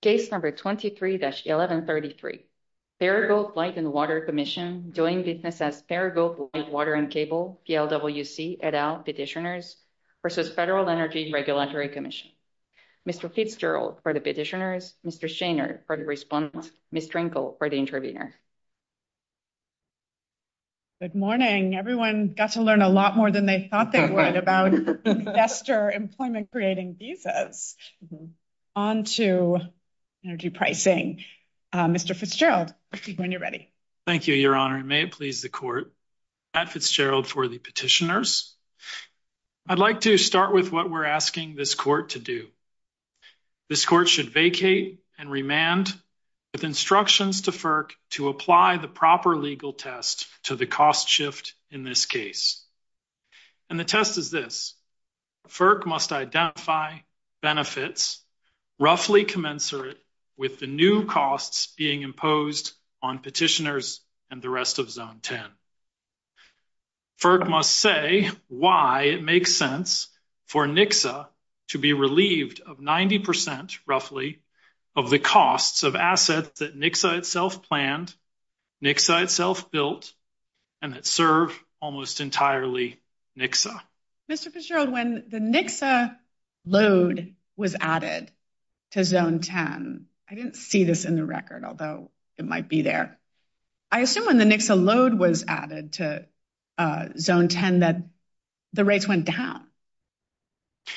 Case number 23-1133, Paragould Light & Water Commission doing business at Paragould Light & Water & Cable, DLWC, et al, Petitioners, versus Federal Energy Regulatory Commission. Mr. Fitzgerald for the Petitioners, Mr. Shainer for the Respondents, Ms. Drinkel for the Intervenors. Good morning. Everyone got to learn a lot more than they thought they would about investor employment creating visas. On to energy pricing. Mr. Fitzgerald, when you're ready. Thank you, Your Honor. May it please the Court. I'm Fitzgerald for the Petitioners. I'd like to start with what we're asking this Court to do. This Court should vacate and remand with instructions to FERC to apply the proper legal test to the cost shift in this case. And the test is this. FERC must identify benefits roughly commensurate with the new costs being imposed on Petitioners and the rest of Zone 10. FERC must say why it makes sense for NXA to be relieved of 90 percent, roughly, of the costs of assets that NXA itself planned, NXA itself built, and that serve almost entirely NXA. Mr. Fitzgerald, when the NXA load was added to Zone 10, I didn't see this in the record, although it might be there. I assume when the NXA load was added to Zone 10 that the rates went down.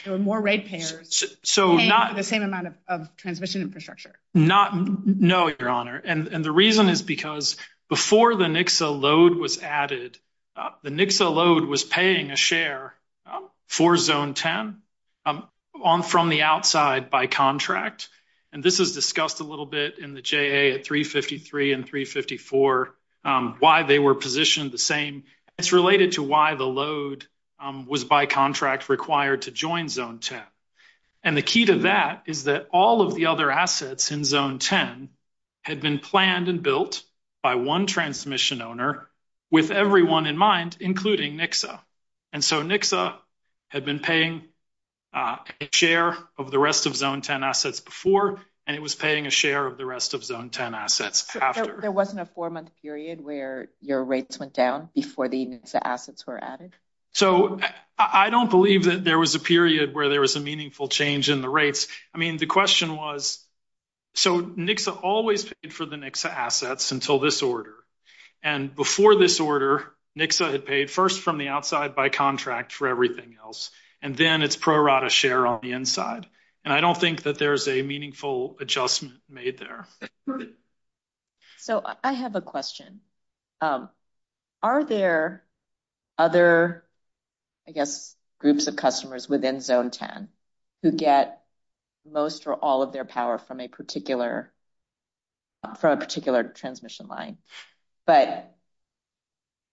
There were more rate payers paying the same amount of transmission infrastructure. No, Your Honor. And the reason is because before the NXA load was added, the NXA load was paying a share for Zone 10 from the outside by contract. And this was discussed a little bit in the JA at 353 and 354, why they were positioned the same. It's related to why the load was by contract required to join Zone 10. And the key to that is that all of the other assets in Zone 10 had been planned and built by one transmission owner with everyone in mind, including NXA. And so NXA had been paying a share of the rest of Zone 10 assets before, and it was paying a share of the rest of Zone 10 assets after. There wasn't a four-month period where your rates went down before the NXA assets were added? So I don't believe that there was a period where there was a meaningful change in the rates. I mean, the question was, so NXA always paid for the NXA assets until this order. And before this order, NXA had paid first from the outside by contract for everything else. And then it's pro rata share on the inside. And I don't think that there's a meaningful adjustment made there. So I have a question. Are there other, I guess, groups of customers within Zone 10 who get most or all of their power from a particular transmission line? But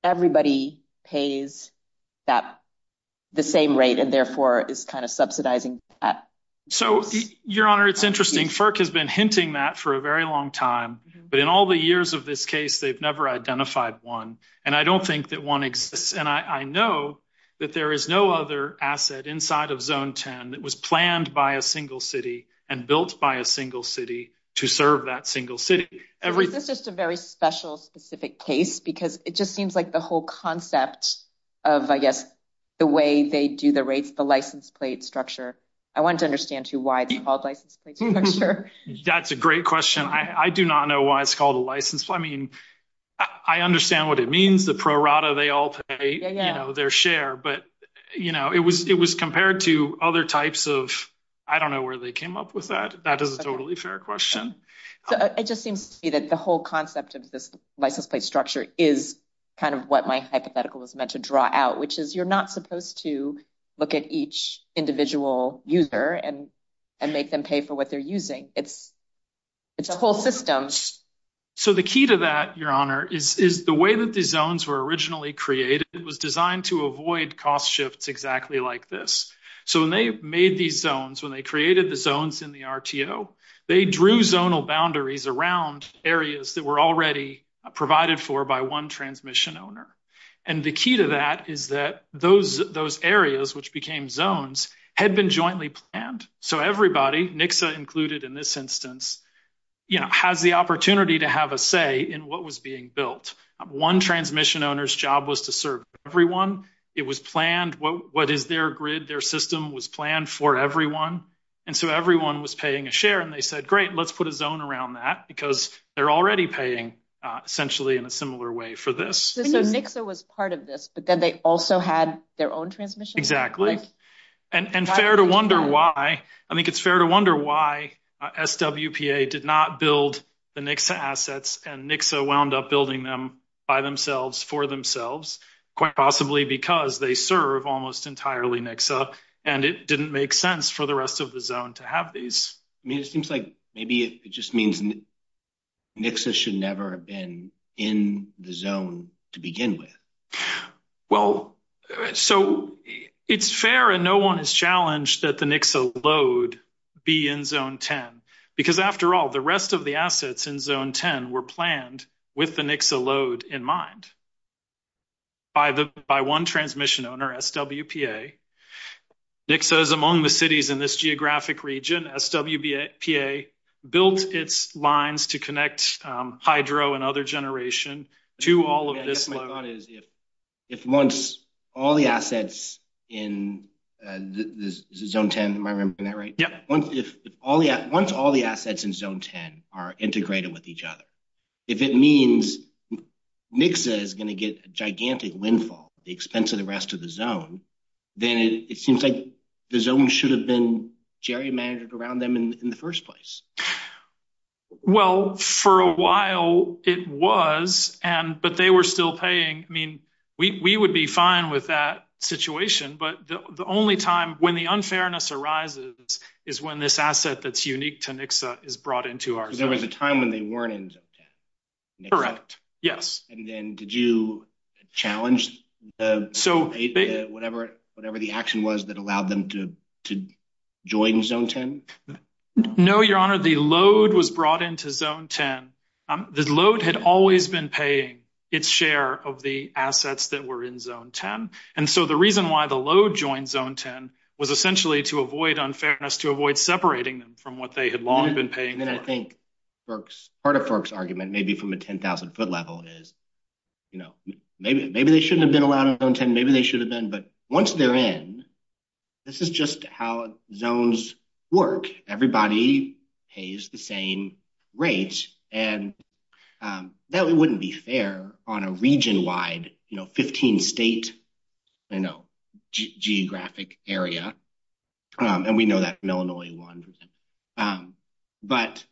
everybody pays the same rate and therefore is kind of subsidizing that. So, Your Honor, it's interesting. FERC has been hinting that for a very long time. But in all the years of this case, they've never identified one. And I don't think that one exists. And I know that there is no other asset inside of Zone 10 that was planned by a single city and built by a single city to serve that single city. Is this just a very special specific case? Because it just seems like the whole concept of, I guess, the way they do the rates, the license plate structure. I want to understand too why it's called a license plate structure. That's a great question. I do not know why it's called a license. I mean, I understand what it means, the pro rata they all pay their share. But, you know, it was compared to other types of, I don't know where they came up with that. That is a totally fair question. It just seems to me that the whole concept of this license plate structure is kind of what my hypothetical was meant to draw out, which is you're not supposed to look at each individual user and make them pay for what they're using. It's a whole system. So the key to that, Your Honor, is the way that these zones were originally created. It was designed to avoid cost shifts exactly like this. So when they made these zones, when they created the zones in the RTO, they drew zonal boundaries around areas that were already provided for by one transmission owner. And the key to that is that those areas, which became zones, had been jointly planned. So everybody, NXA included in this instance, you know, has the opportunity to have a say in what was being built. One transmission owner's job was to serve everyone. It was planned, what is their grid, their system was planned for everyone. And so everyone was paying a share. And they said, great, let's put a zone around that because they're already paying essentially in a similar way for this. So NXA was part of this, but then they also had their own transmission? Exactly. And fair to wonder why. I think it's fair to wonder why SWPA did not build the NXA assets and NXA wound up building them by themselves, for themselves, quite possibly because they serve almost entirely NXA, and it didn't make sense for the rest of the zone to have these. It seems like maybe it just means NXA should never have been in the zone to begin with. Well, so it's fair and no one has challenged that the NXA load be in Zone 10. Because after all, the rest of the assets in Zone 10 were planned with the NXA load in mind by one transmission owner, SWPA. NXA is among the cities in this geographic region. SWPA built its lines to connect hydro and other generation to all of this load. If once all the assets in Zone 10, am I remembering that right? Yep. Once all the assets in Zone 10 are integrated with each other, if it means NXA is going to get gigantic windfall at the expense of the rest of the zone, then it seems like the zone should have been gerrymandered around them in the first place. Well, for a while it was, but they were still paying. I mean, we would be fine with that situation, but the only time when the unfairness arises is when this asset that's unique to NXA is brought into our zone. So there was a time when they weren't in Zone 10? Correct. Yes. And then did you challenge the NXA, whatever the action was that allowed them to join Zone 10? No, Your Honor. The load was brought into Zone 10. The load had always been paying its share of the assets that were in Zone 10, and so the reason why the load joined Zone 10 was essentially to avoid unfairness, to avoid separating them from what they had long been paying. I think part of Kirk's argument, maybe from a 10,000-foot level, is maybe they shouldn't have been around Zone 10, maybe they should have been, but once they're in, this is just how zones work. Everybody pays the same rates, and that wouldn't be fair on a region-wide 15-state geographic area, and we know that from Illinois. But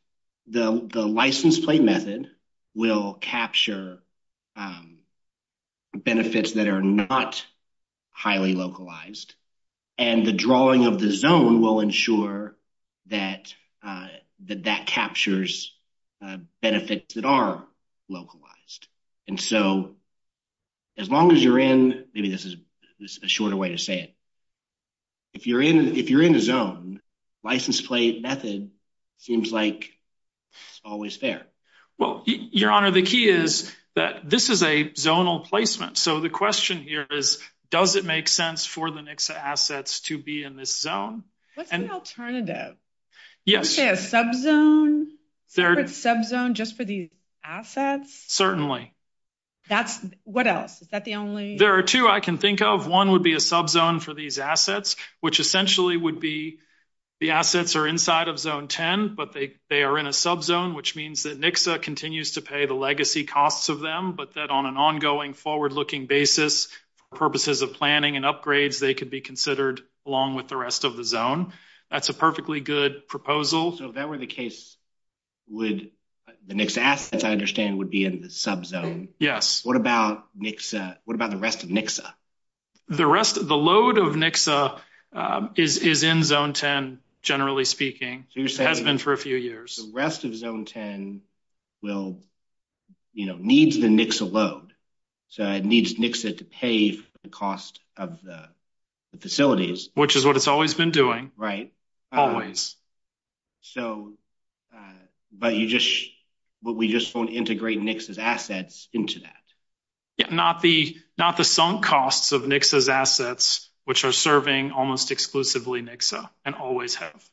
the license plate method will capture benefits that are not highly localized, and the drawing of the zone will ensure that that captures benefits that are localized. And so as long as you're in, maybe this is a shorter way to say it, if you're in a zone, license plate method seems like it's always there. Well, Your Honor, the key is that this is a zonal placement, so the question here is does it make sense for the NXA assets to be in this zone? What's the alternative? Yes. Is there a subzone, separate subzone just for these assets? Certainly. What else? There are two I can think of. One would be a subzone for these assets, which essentially would be the assets are inside of Zone 10, but they are in a subzone, which means that NXA continues to pay the legacy costs of them, but that on an ongoing, forward-looking basis, for purposes of planning and upgrades, they could be considered along with the rest of the zone. That's a perfectly good proposal. If that were the case, the NXA assets, I understand, would be in the subzone. Yes. What about the rest of NXA? The load of NXA is in Zone 10, generally speaking. It has been for a few years. The rest of Zone 10 needs the NXA load, so it needs NXA to pay the cost of the facilities. Which is what it's always been doing. Right. Always. But we just won't integrate NXA's assets into that. Not the sunk costs of NXA's assets, which are serving almost exclusively NXA, and always have.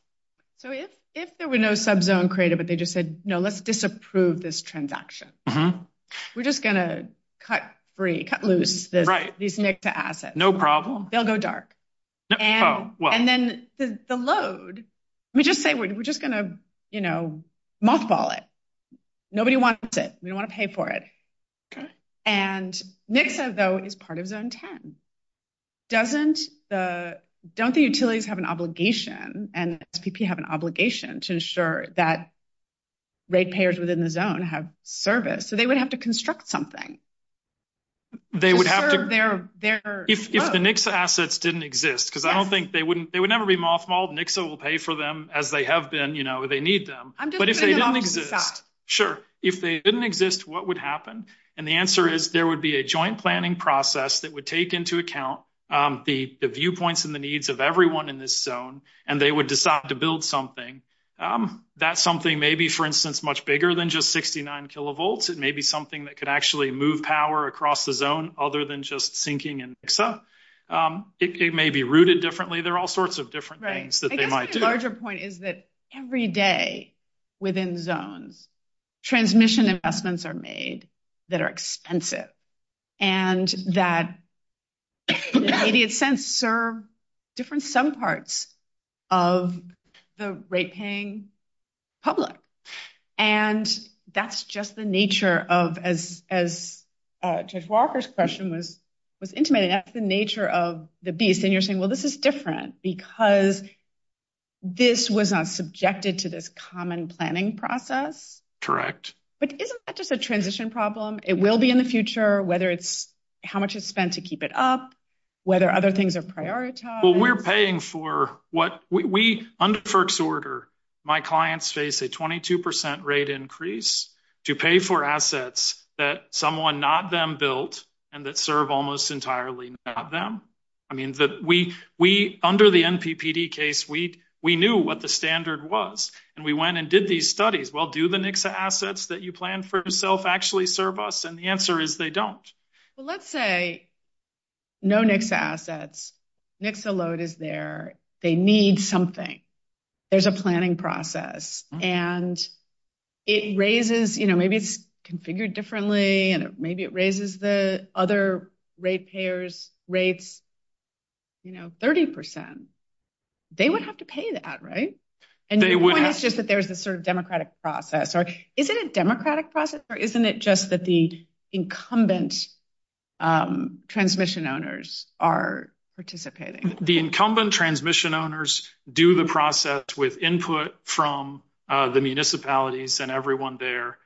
If there were no subzone created, but they just said, no, let's disapprove this transaction, we're just going to cut loose these NXA assets. No problem. They'll go dark. And then the load, we just say, we're just going to mothball it. Nobody wants it. We don't want to pay for it. And NXA, though, is part of Zone 10. Don't the utilities have an obligation, and SPP have an obligation, to ensure that rate payers within the zone have service? So they would have to construct something. They would have to. If the NXA assets didn't exist. Because I don't think they would never be mothballed. NXA will pay for them as they have been. You know, they need them. But if they didn't exist. Sure. If they didn't exist, what would happen? And the answer is, there would be a joint planning process that would take into account the viewpoints and the needs of everyone in this zone, and they would decide to build something. That something may be, for instance, much bigger than just 69 kilovolts. It may be something that could actually move power across the zone, other than just syncing and NXA. It may be rooted differently. There are all sorts of different things that they might do. Right. I think the larger point is that every day within the zone, transmission investments are made that are expensive. And that, in a sense, serve different subparts of the rate-paying public. And that's just the nature of, as Jeff Walker's question was intimating, that's the nature of the beast. And you're saying, well, this is different because this was not subjected to this common planning process. Correct. But isn't that just a transition problem? It will be in the future, whether it's how much is spent to keep it up, whether other things are prioritized. Well, we're paying for what we, under FERC's order, my clients face a 22% rate increase to pay for assets that someone, not them, built and that serve almost entirely not them. I mean, we, under the NPPD case, we knew what the standard was. And we went and did these studies. Well, do the NXA assets that you planned for yourself actually serve us? And the answer is they don't. Well, let's say no NXA assets. NXA load is there. They need something. There's a planning process. And it raises, you know, maybe it's configured differently, and maybe it raises the other rate payers' rates, you know, 30%. They would have to pay that, right? They would. The point is just that there's a sort of democratic process. Isn't it a democratic process, or isn't it just that the incumbent transmission owners are participating? The incumbent transmission owners do the process with input from the municipalities and everyone there.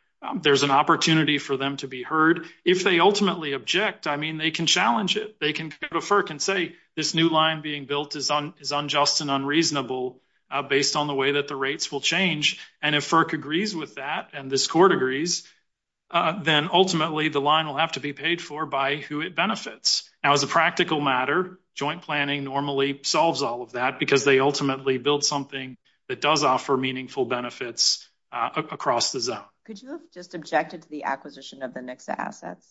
There's an opportunity for them to be heard. If they ultimately object, I mean, they can challenge it. They can go to FERC and say this new line being built is unjust and unreasonable based on the way that the rates will change. And if FERC agrees with that and this court agrees, then ultimately the line will have to be paid for by who it benefits. Now, as a practical matter, joint planning normally solves all of that because they ultimately build something that does offer meaningful benefits across the zone. Could you have just objected to the acquisition of the NXA assets?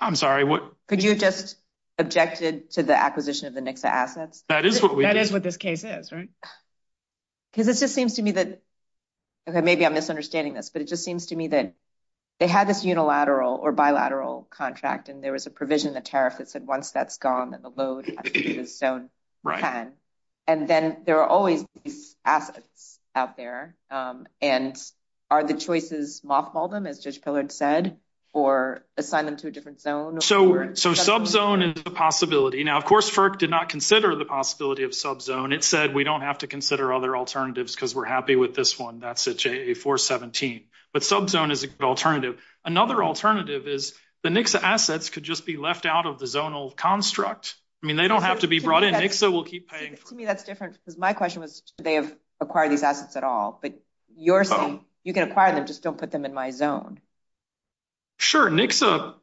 I'm sorry, what? Could you have just objected to the acquisition of the NXA assets? That is what we did. That is what this case is, right? Because it just seems to me that, okay, maybe I'm misunderstanding this, but it just seems to me that they had this unilateral or bilateral contract, and there was a provision, a tariff that said once that's gone, then the load has to be in zone 10. And then there are always assets out there. And are the choices multiple them, as Josh Pillard said, or assign them to a different zone? So subzone is a possibility. Now, of course, FERC did not consider the possibility of subzone. It said we don't have to consider other alternatives because we're happy with this one. That's a JA-417. But subzone is an alternative. Another alternative is the NXA assets could just be left out of the zonal construct. I mean, they don't have to be brought in. NXA will keep paying for them. To me, that's different because my question was do they acquire these assets at all. But you can acquire them. Just don't put them in my zone. Sure. NXA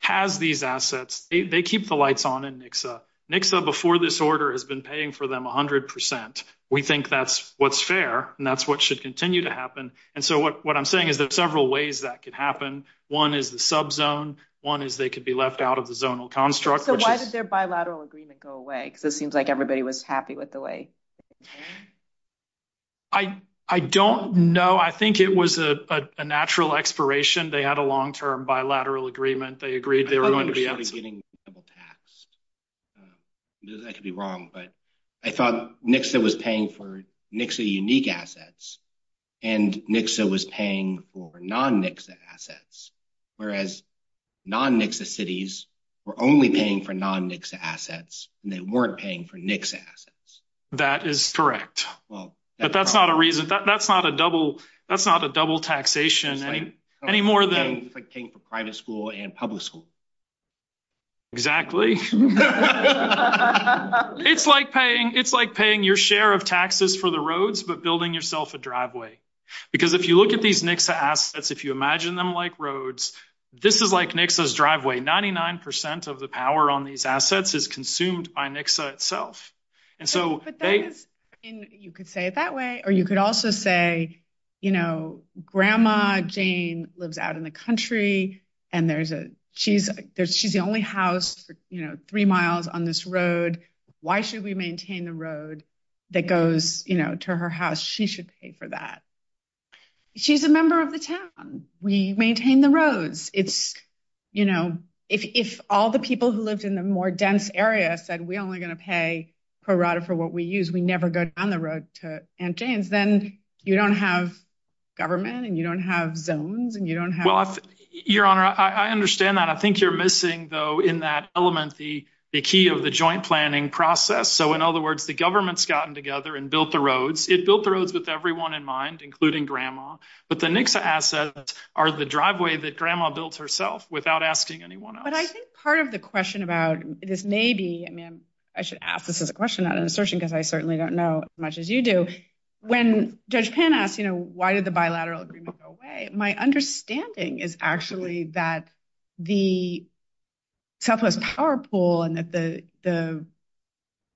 has these assets. They keep the lights on in NXA. NXA before this order has been paying for them 100%. We think that's what's fair, and that's what should continue to happen. And so what I'm saying is there are several ways that could happen. One is the subzone. One is they could be left out of the zonal construct. So why did their bilateral agreement go away? Because it seems like everybody was happy with the way it was done. I don't know. I think it was a natural expiration. They had a long-term bilateral agreement. They agreed they were going to be able to do it. I could be wrong, but I thought NXA was paying for NXA unique assets, and NXA was paying for non-NXA assets. Whereas non-NXA cities were only paying for non-NXA assets, and they weren't paying for NXA assets. That is correct. But that's not a reason. That's not a double taxation. It's like paying for private school and public school. Exactly. It's like paying your share of taxes for the roads but building yourself a driveway. Because if you look at these NXA assets, if you imagine them like roads, this is like NXA's driveway. 99% of the power on these assets is consumed by NXA itself. You could say it that way, or you could also say, you know, Grandma Jane lives out in the country, and she's the only house three miles on this road. Why should we maintain the road that goes to her house? She should pay for that. She's a member of the town. We maintain the roads. It's, you know, if all the people who live in the more dense areas said we're only going to pay for what we use, we never go down the road to Aunt Jane's, then you don't have government, and you don't have zones, and you don't have... Well, Your Honor, I understand that. I think you're missing, though, in that element the key of the joint planning process. So, in other words, the government's gotten together and built the roads. It built the roads with everyone in mind, including Grandma, but the NXA assets are the driveway that Grandma built herself without asking anyone else. But I think part of the question about this may be, I mean, I should ask this as a question, not an assertion, because I certainly don't know as much as you do. When Judge Penn asked, you know, why did the bilateral agreement go away, my understanding is actually that the Southwest Power Pool and that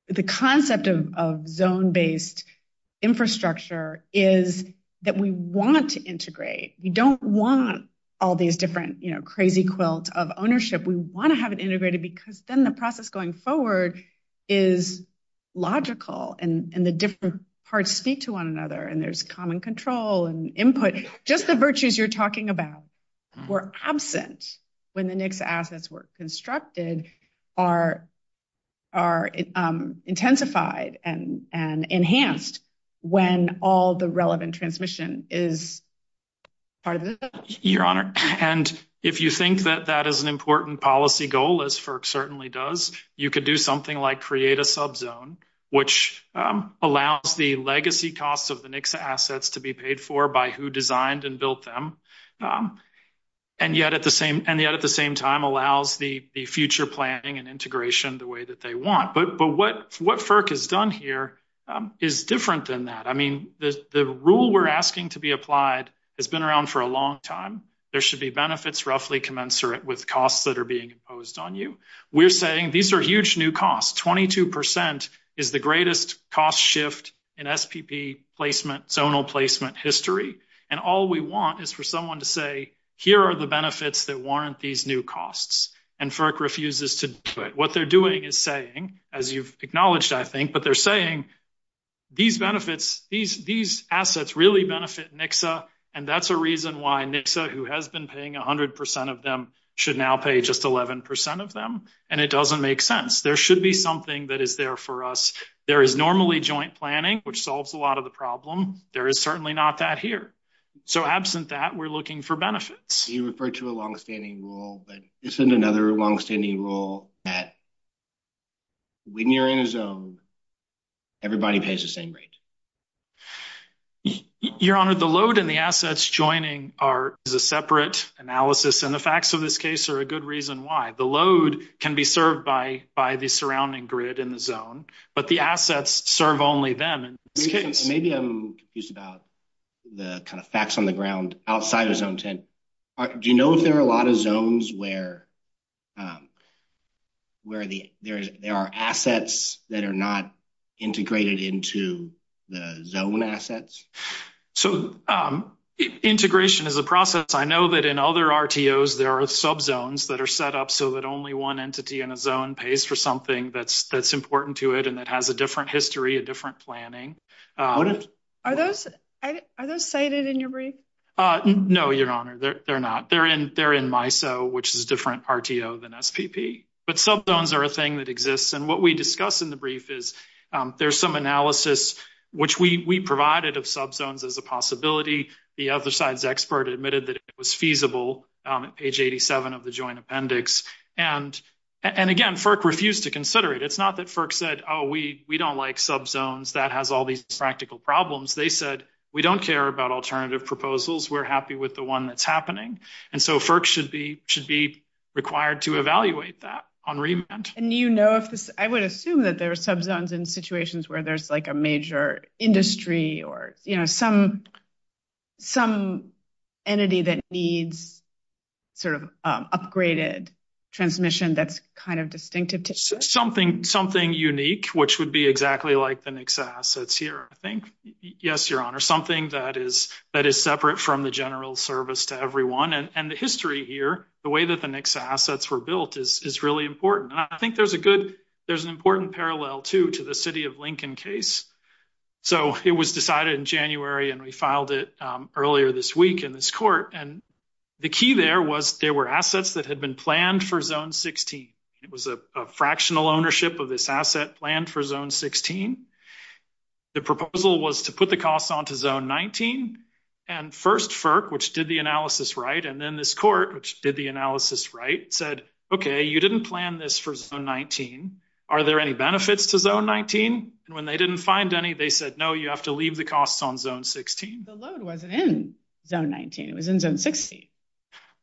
the concept of zone-based infrastructure is that we want to integrate. We don't want all these different, you know, crazy quilts of ownership. We want to have it integrated because then the process going forward is logical, and the different parts speak to one another, and there's common control and input. Just the virtues you're talking about were absent when the NXA assets were constructed are intensified and enhanced when all the relevant transmission is part of the system. Your Honor, and if you think that that is an important policy goal, as FERC certainly does, you could do something like create a subzone, which allows the legacy costs of the NXA assets to be paid for by who designed and built them, and yet at the same time allows the future planning and integration the way that they want. But what FERC has done here is different than that. I mean, the rule we're asking to be applied has been around for a long time. There should be benefits roughly commensurate with costs that are being imposed on you. We're saying these are huge new costs. Twenty-two percent is the greatest cost shift in SPP placement, zonal placement history, and all we want is for someone to say, here are the benefits that warrant these new costs, and FERC refuses to do it. What they're doing is saying, as you've acknowledged, I think, but they're saying these benefits, these assets really benefit NXA, and that's a reason why NXA, who has been paying 100 percent of them, should now pay just 11 percent of them, and it doesn't make sense. There should be something that is there for us. There is normally joint planning, which solves a lot of the problem. There is certainly not that here. So absent that, we're looking for benefits. You referred to a longstanding rule, but isn't another longstanding rule that when you're in a zone, everybody pays the same rate? Your Honor, the load and the assets joining are a separate analysis, and the facts of this case are a good reason why. The load can be served by the surrounding grid in the zone, but the assets serve only them in this case. Maybe I'm confused about the facts on the ground outside of zones. Do you know if there are a lot of zones where there are assets that are not integrated into the zone assets? So integration is a process. I know that in other RTOs, there are subzones that are set up so that only one entity in a zone pays for something that's important to it and that has a different history, a different planning. Are those cited in your brief? No, Your Honor, they're not. They're in MISO, which is a different RTO than SPP. But subzones are a thing that exists, and what we discuss in the brief is there's some analysis, which we provided of subzones as a possibility. The other side's expert admitted that it was feasible, page 87 of the joint appendix. And again, FERC refused to consider it. It's not that FERC said, oh, we don't like subzones. That has all these practical problems. They said, we don't care about alternative proposals. We're happy with the one that's happening. And so FERC should be required to evaluate that on remand. I would assume that there are subzones in situations where there's a major industry or some entity that needs sort of upgraded transmission that's kind of distinctive. Something unique, which would be exactly like the NICSA assets here. Yes, Your Honor, something that is separate from the general service to everyone. And the history here, the way that the NICSA assets were built is really important. And I think there's an important parallel, too, to the City of Lincoln case. So it was decided in January, and we filed it earlier this week in this court. And the key there was there were assets that had been planned for Zone 16. It was a fractional ownership of this asset planned for Zone 16. The proposal was to put the costs onto Zone 19. And first, FERC, which did the analysis right, and then this court, which did the analysis right, said, okay, you didn't plan this for Zone 19. Are there any benefits to Zone 19? And when they didn't find any, they said, no, you have to leave the costs on Zone 16. The load wasn't in Zone 19. It was in Zone 16.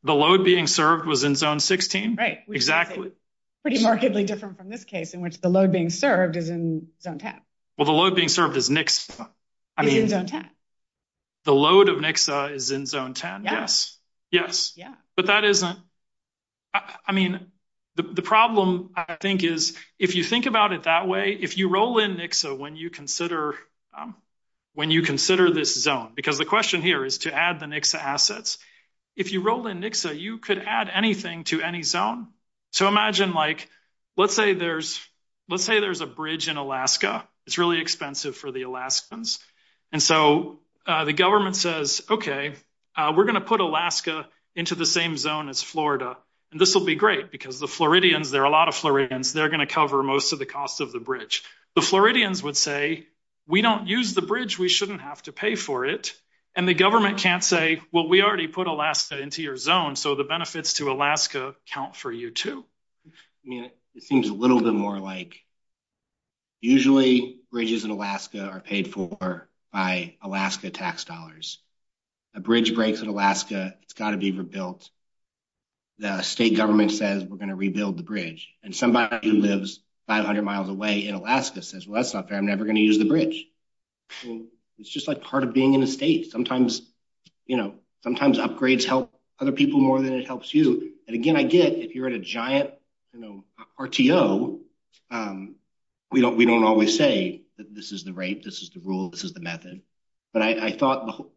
The load being served was in Zone 16? Right. Exactly. Pretty markedly different from this case, in which the load being served is in Zone 10. Well, the load being served is NICSA. It is in Zone 10. The load of NICSA is in Zone 10, yes. Yes. But that isn't – I mean, the problem, I think, is if you think about it that way, if you roll in NICSA when you consider this zone, because the question here is to add the NICSA assets, if you roll in NICSA, you could add anything to any zone. So imagine, like, let's say there's a bridge in Alaska. It's really expensive for the Alaskans. And so the government says, okay, we're going to put Alaska into the same zone as Florida, and this will be great because the Floridians – there are a lot of Floridians. They're going to cover most of the cost of the bridge. The Floridians would say, we don't use the bridge. We shouldn't have to pay for it. And the government can't say, well, we already put Alaska into your zone, so the benefits to Alaska count for you too. I mean, it seems a little bit more like usually bridges in Alaska are paid for by Alaska tax dollars. A bridge breaks in Alaska, it's got to be rebuilt. The state government says we're going to rebuild the bridge. And somebody who lives 500 miles away in Alaska says, well, that's not fair. I'm never going to use the bridge. It's just like part of being in the state. Sometimes upgrades help other people more than it helps you. And again, I did. If you're at a giant RTO, we don't always say that this is the rate, this is the rule, this is the method. But I thought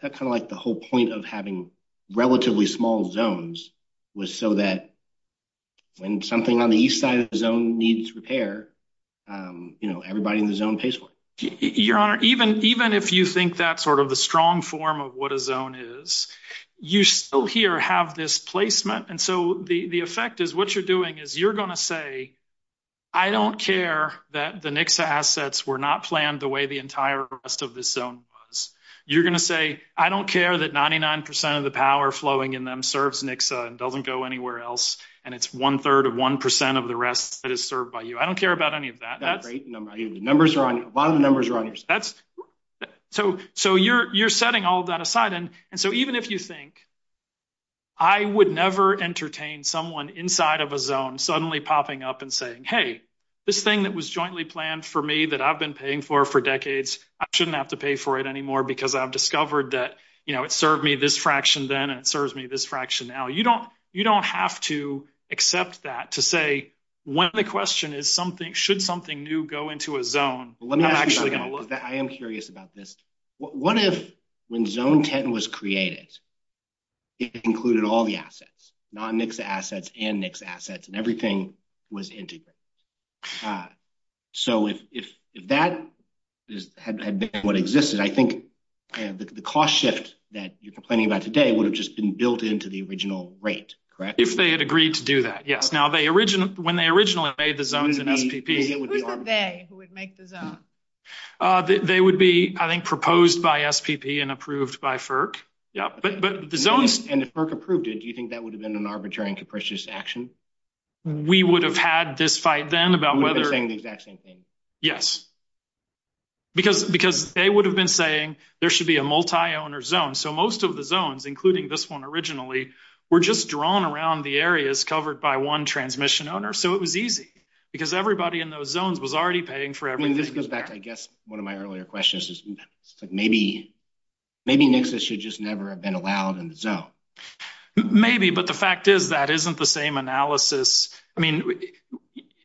kind of like the whole point of having relatively small zones was so that when something on the east side of the zone needs repair, everybody in the zone pays for it. Your Honor, even if you think that's sort of the strong form of what a zone is, you still here have this placement. And so the effect is what you're doing is you're going to say, I don't care that the NXA assets were not planned the way the entire rest of the zone was. You're going to say, I don't care that 99% of the power flowing in them serves NXA and doesn't go anywhere else. And it's one third of 1% of the rest that is served by you. I don't care about any of that. The numbers are on you. The bottom numbers are on you. So you're setting all of that aside. And so even if you think, I would never entertain someone inside of a zone suddenly popping up and saying, hey, this thing that was jointly planned for me that I've been paying for for decades, I shouldn't have to pay for it anymore because I've discovered that it served me this fraction then and it serves me this fraction now. You don't have to accept that to say when the question is, should something new go into a zone? I am curious about this. What if when Zone 10 was created, it included all the assets, non-NXA assets and NXA assets and everything was integrated? So if that had been what existed, I think the cost shift that you're complaining about today would have just been built into the original rate, correct? If they had agreed to do that. Yes. Now, when they originally made the zones in SPP, who were they who would make the zones? They would be, I think, proposed by SPP and approved by FERC. Yeah. But the zones and the FERC approved it, do you think that would have been an arbitrary and capricious action? We would have had this fight then about whether... The exact same thing. Yes, because they would have been saying there should be a multi-owner zone. So most of the zones, including this one originally, were just drawn around the areas covered by one transmission owner. So it was easy because everybody in those zones was already paying for everything. This goes back to, I guess, one of my earlier questions. Maybe, but the fact is that isn't the same analysis. I mean,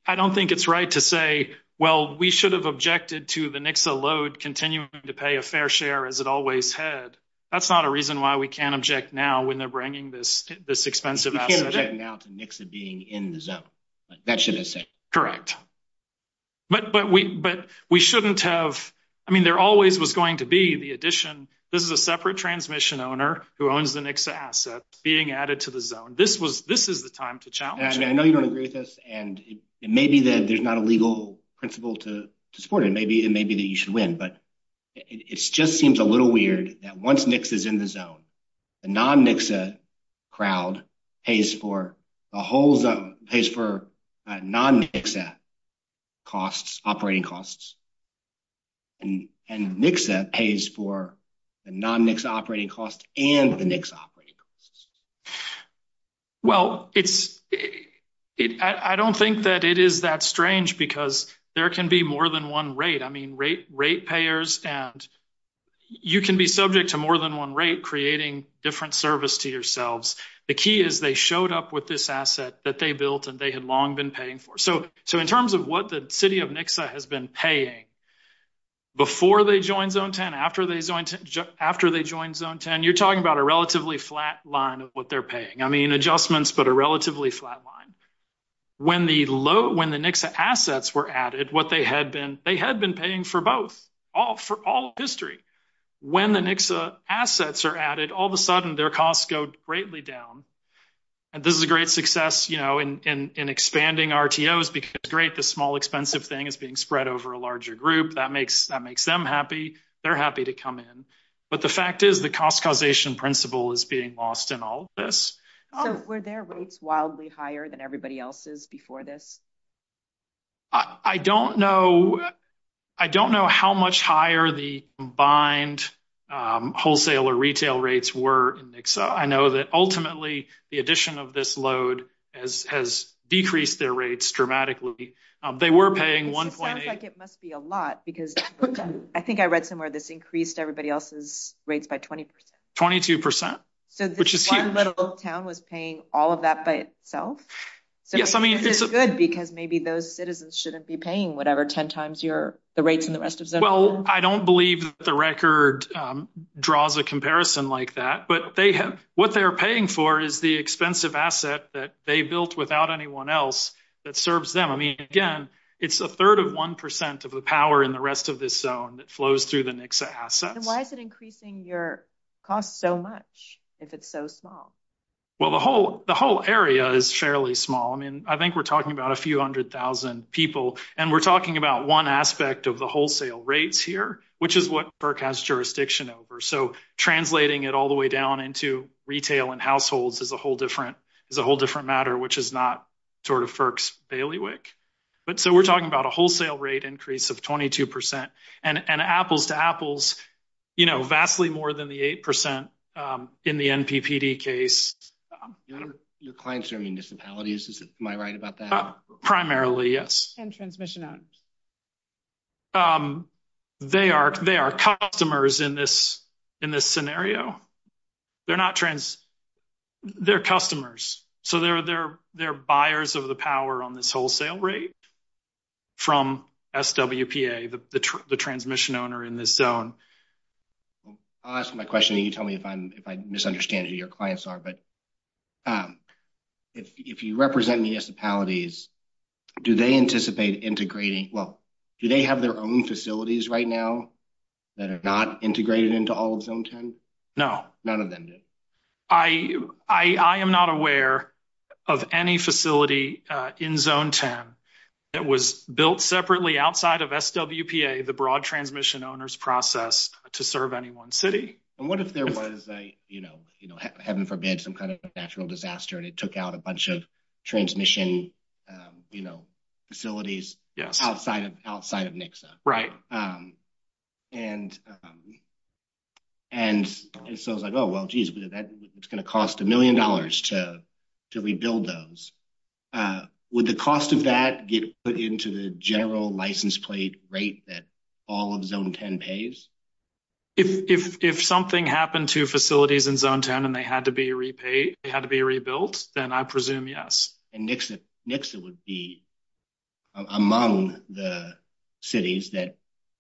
I don't think it's right to say, well, we should have objected to the NXA load continuing to pay a fair share as it always had. That's not a reason why we can't object now when they're bringing this expensive asset in. You can't object now to NXA being in the zone. That shouldn't exist. Correct. But we shouldn't have... I mean, there always was going to be the addition. This is a separate transmission owner who owns the NXA asset being added to the zone. This is the time to challenge it. I know you agree with us, and it may be that there's not a legal principle to support it. It may be that you should win, but it just seems a little weird that once NXA is in the zone, the non-NXA crowd pays for non-NXA costs, operating costs, and NXA pays for the non-NXA operating costs and the NXA operating costs. Well, I don't think that it is that strange because there can be more than one rate. I mean, rate payers and you can be subject to more than one rate creating different service to yourselves. The key is they showed up with this asset that they built and they had long been paying for. So, in terms of what the city of NXA has been paying before they joined Zone 10, after they joined Zone 10, you're talking about a relatively flat line of what they're paying. I mean, adjustments, but a relatively flat line. When the NXA assets were added, they had been paying for both, for all history. When the NXA assets are added, all of a sudden their costs go greatly down. And this is a great success in expanding RTOs because, great, the small expensive thing is being spread over a larger group. That makes them happy. They're happy to come in. But the fact is the cost causation principle is being lost in all of this. Were their rates wildly higher than everybody else's before this? I don't know. I don't know how much higher the combined wholesale or retail rates were. I know that ultimately the addition of this load has decreased their rates dramatically. They were paying 1.8. It sounds like it must be a lot because I think I read somewhere this increased everybody else's rates by 20%. 22%, which is huge. So this means that Old Town was paying all of that by itself? Yes, I mean... Which is good because maybe those citizens shouldn't be paying whatever 10 times the rates in the rest of the zone. Well, I don't believe that the record draws a comparison like that, but what they're paying for is the expensive asset that they built without anyone else that serves them. I mean, again, it's a third of 1% of the power in the rest of this zone that flows through the NXA assets. And why is it increasing your cost so much if it's so small? Well, the whole area is fairly small. I mean, I think we're talking about a few hundred thousand people, and we're talking about one aspect of the wholesale rates here, which is what FERC has jurisdiction over. So translating it all the way down into retail and households is a whole different matter, which is not sort of FERC's bailiwick. But so we're talking about a wholesale rate increase of 22%, and apples to apples, you know, vastly more than the 8% in the NPPD case. Your clients are municipalities. Am I right about that? Primarily, yes. And transmission owned? They are customers in this scenario. They're customers. So they're buyers of the power on this wholesale rate from SWPA, the transmission owner in this zone. I'll ask my question, and you tell me if I misunderstand who your clients are. But if you represent municipalities, do they anticipate integrating? Well, do they have their own facilities right now that are not integrated into all of Zone 10? No. None of them do. I am not aware of any facility in Zone 10 that was built separately outside of SWPA, the broad transmission owner's process, to serve any one city. And what if there was a, you know, heaven forbid, some kind of natural disaster, and it took out a bunch of transmission, you know, facilities outside of Nixa? Right. And so it's like, oh, well, geez, it's going to cost a million dollars to rebuild those. Would the cost of that get put into the general license plate rate that all of Zone 10 pays? If something happened to facilities in Zone 10 and they had to be repaid, they had to be rebuilt, then I presume yes. And Nixa would be among the cities that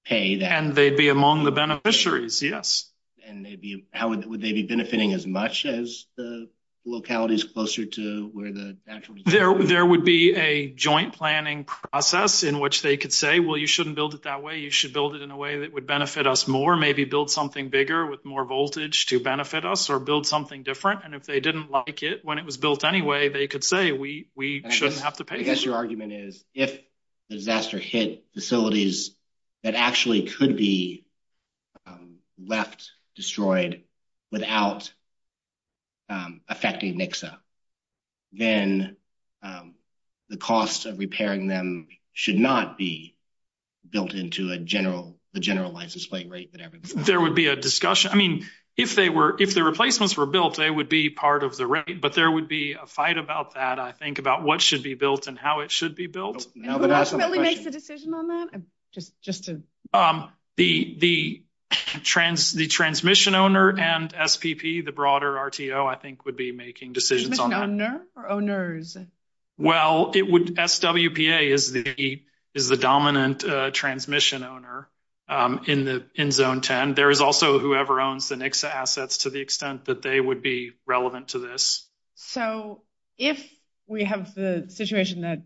pay that. And they'd be among the beneficiaries, yes. And would they be benefiting as much as the localities closer to where the natural disaster is? There would be a joint planning process in which they could say, well, you shouldn't build it that way. You should build it in a way that would benefit us more. Maybe build something bigger with more voltage to benefit us or build something different. And if they didn't like it when it was built anyway, they could say we shouldn't have to pay. I guess your argument is if disaster hit facilities that actually could be left destroyed without affecting Nixa, then the costs of repairing them should not be built into a general license plate rate. There would be a discussion. I mean, if the replacements were built, they would be part of the rate. But there would be a fight about that, I think, about what should be built and how it should be built. Can we make a decision on that? The transmission owner and SPP, the broader RTO, I think would be making decisions on that. Transmission owner or owners? Well, SWPA is the dominant transmission owner in Zone 10. And there is also whoever owns the Nixa assets to the extent that they would be relevant to this. So if we have the situation that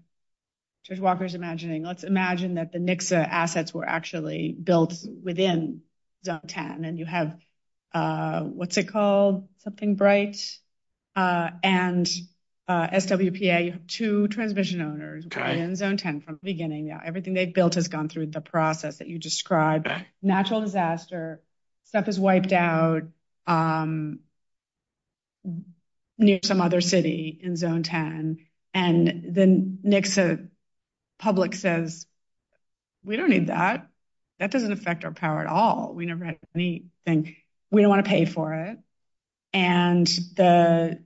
Judge Walker is imagining, let's imagine that the Nixa assets were actually built within Zone 10. And you have, what's it called, something bright? And SWPA, you have two transmission owners in Zone 10 from the beginning. Everything they've built has gone through the process that you described. Natural disaster, stuff is wiped out near some other city in Zone 10. And then Nixa public says, we don't need that. That doesn't affect our power at all. We never had anything. We don't want to pay for it. And the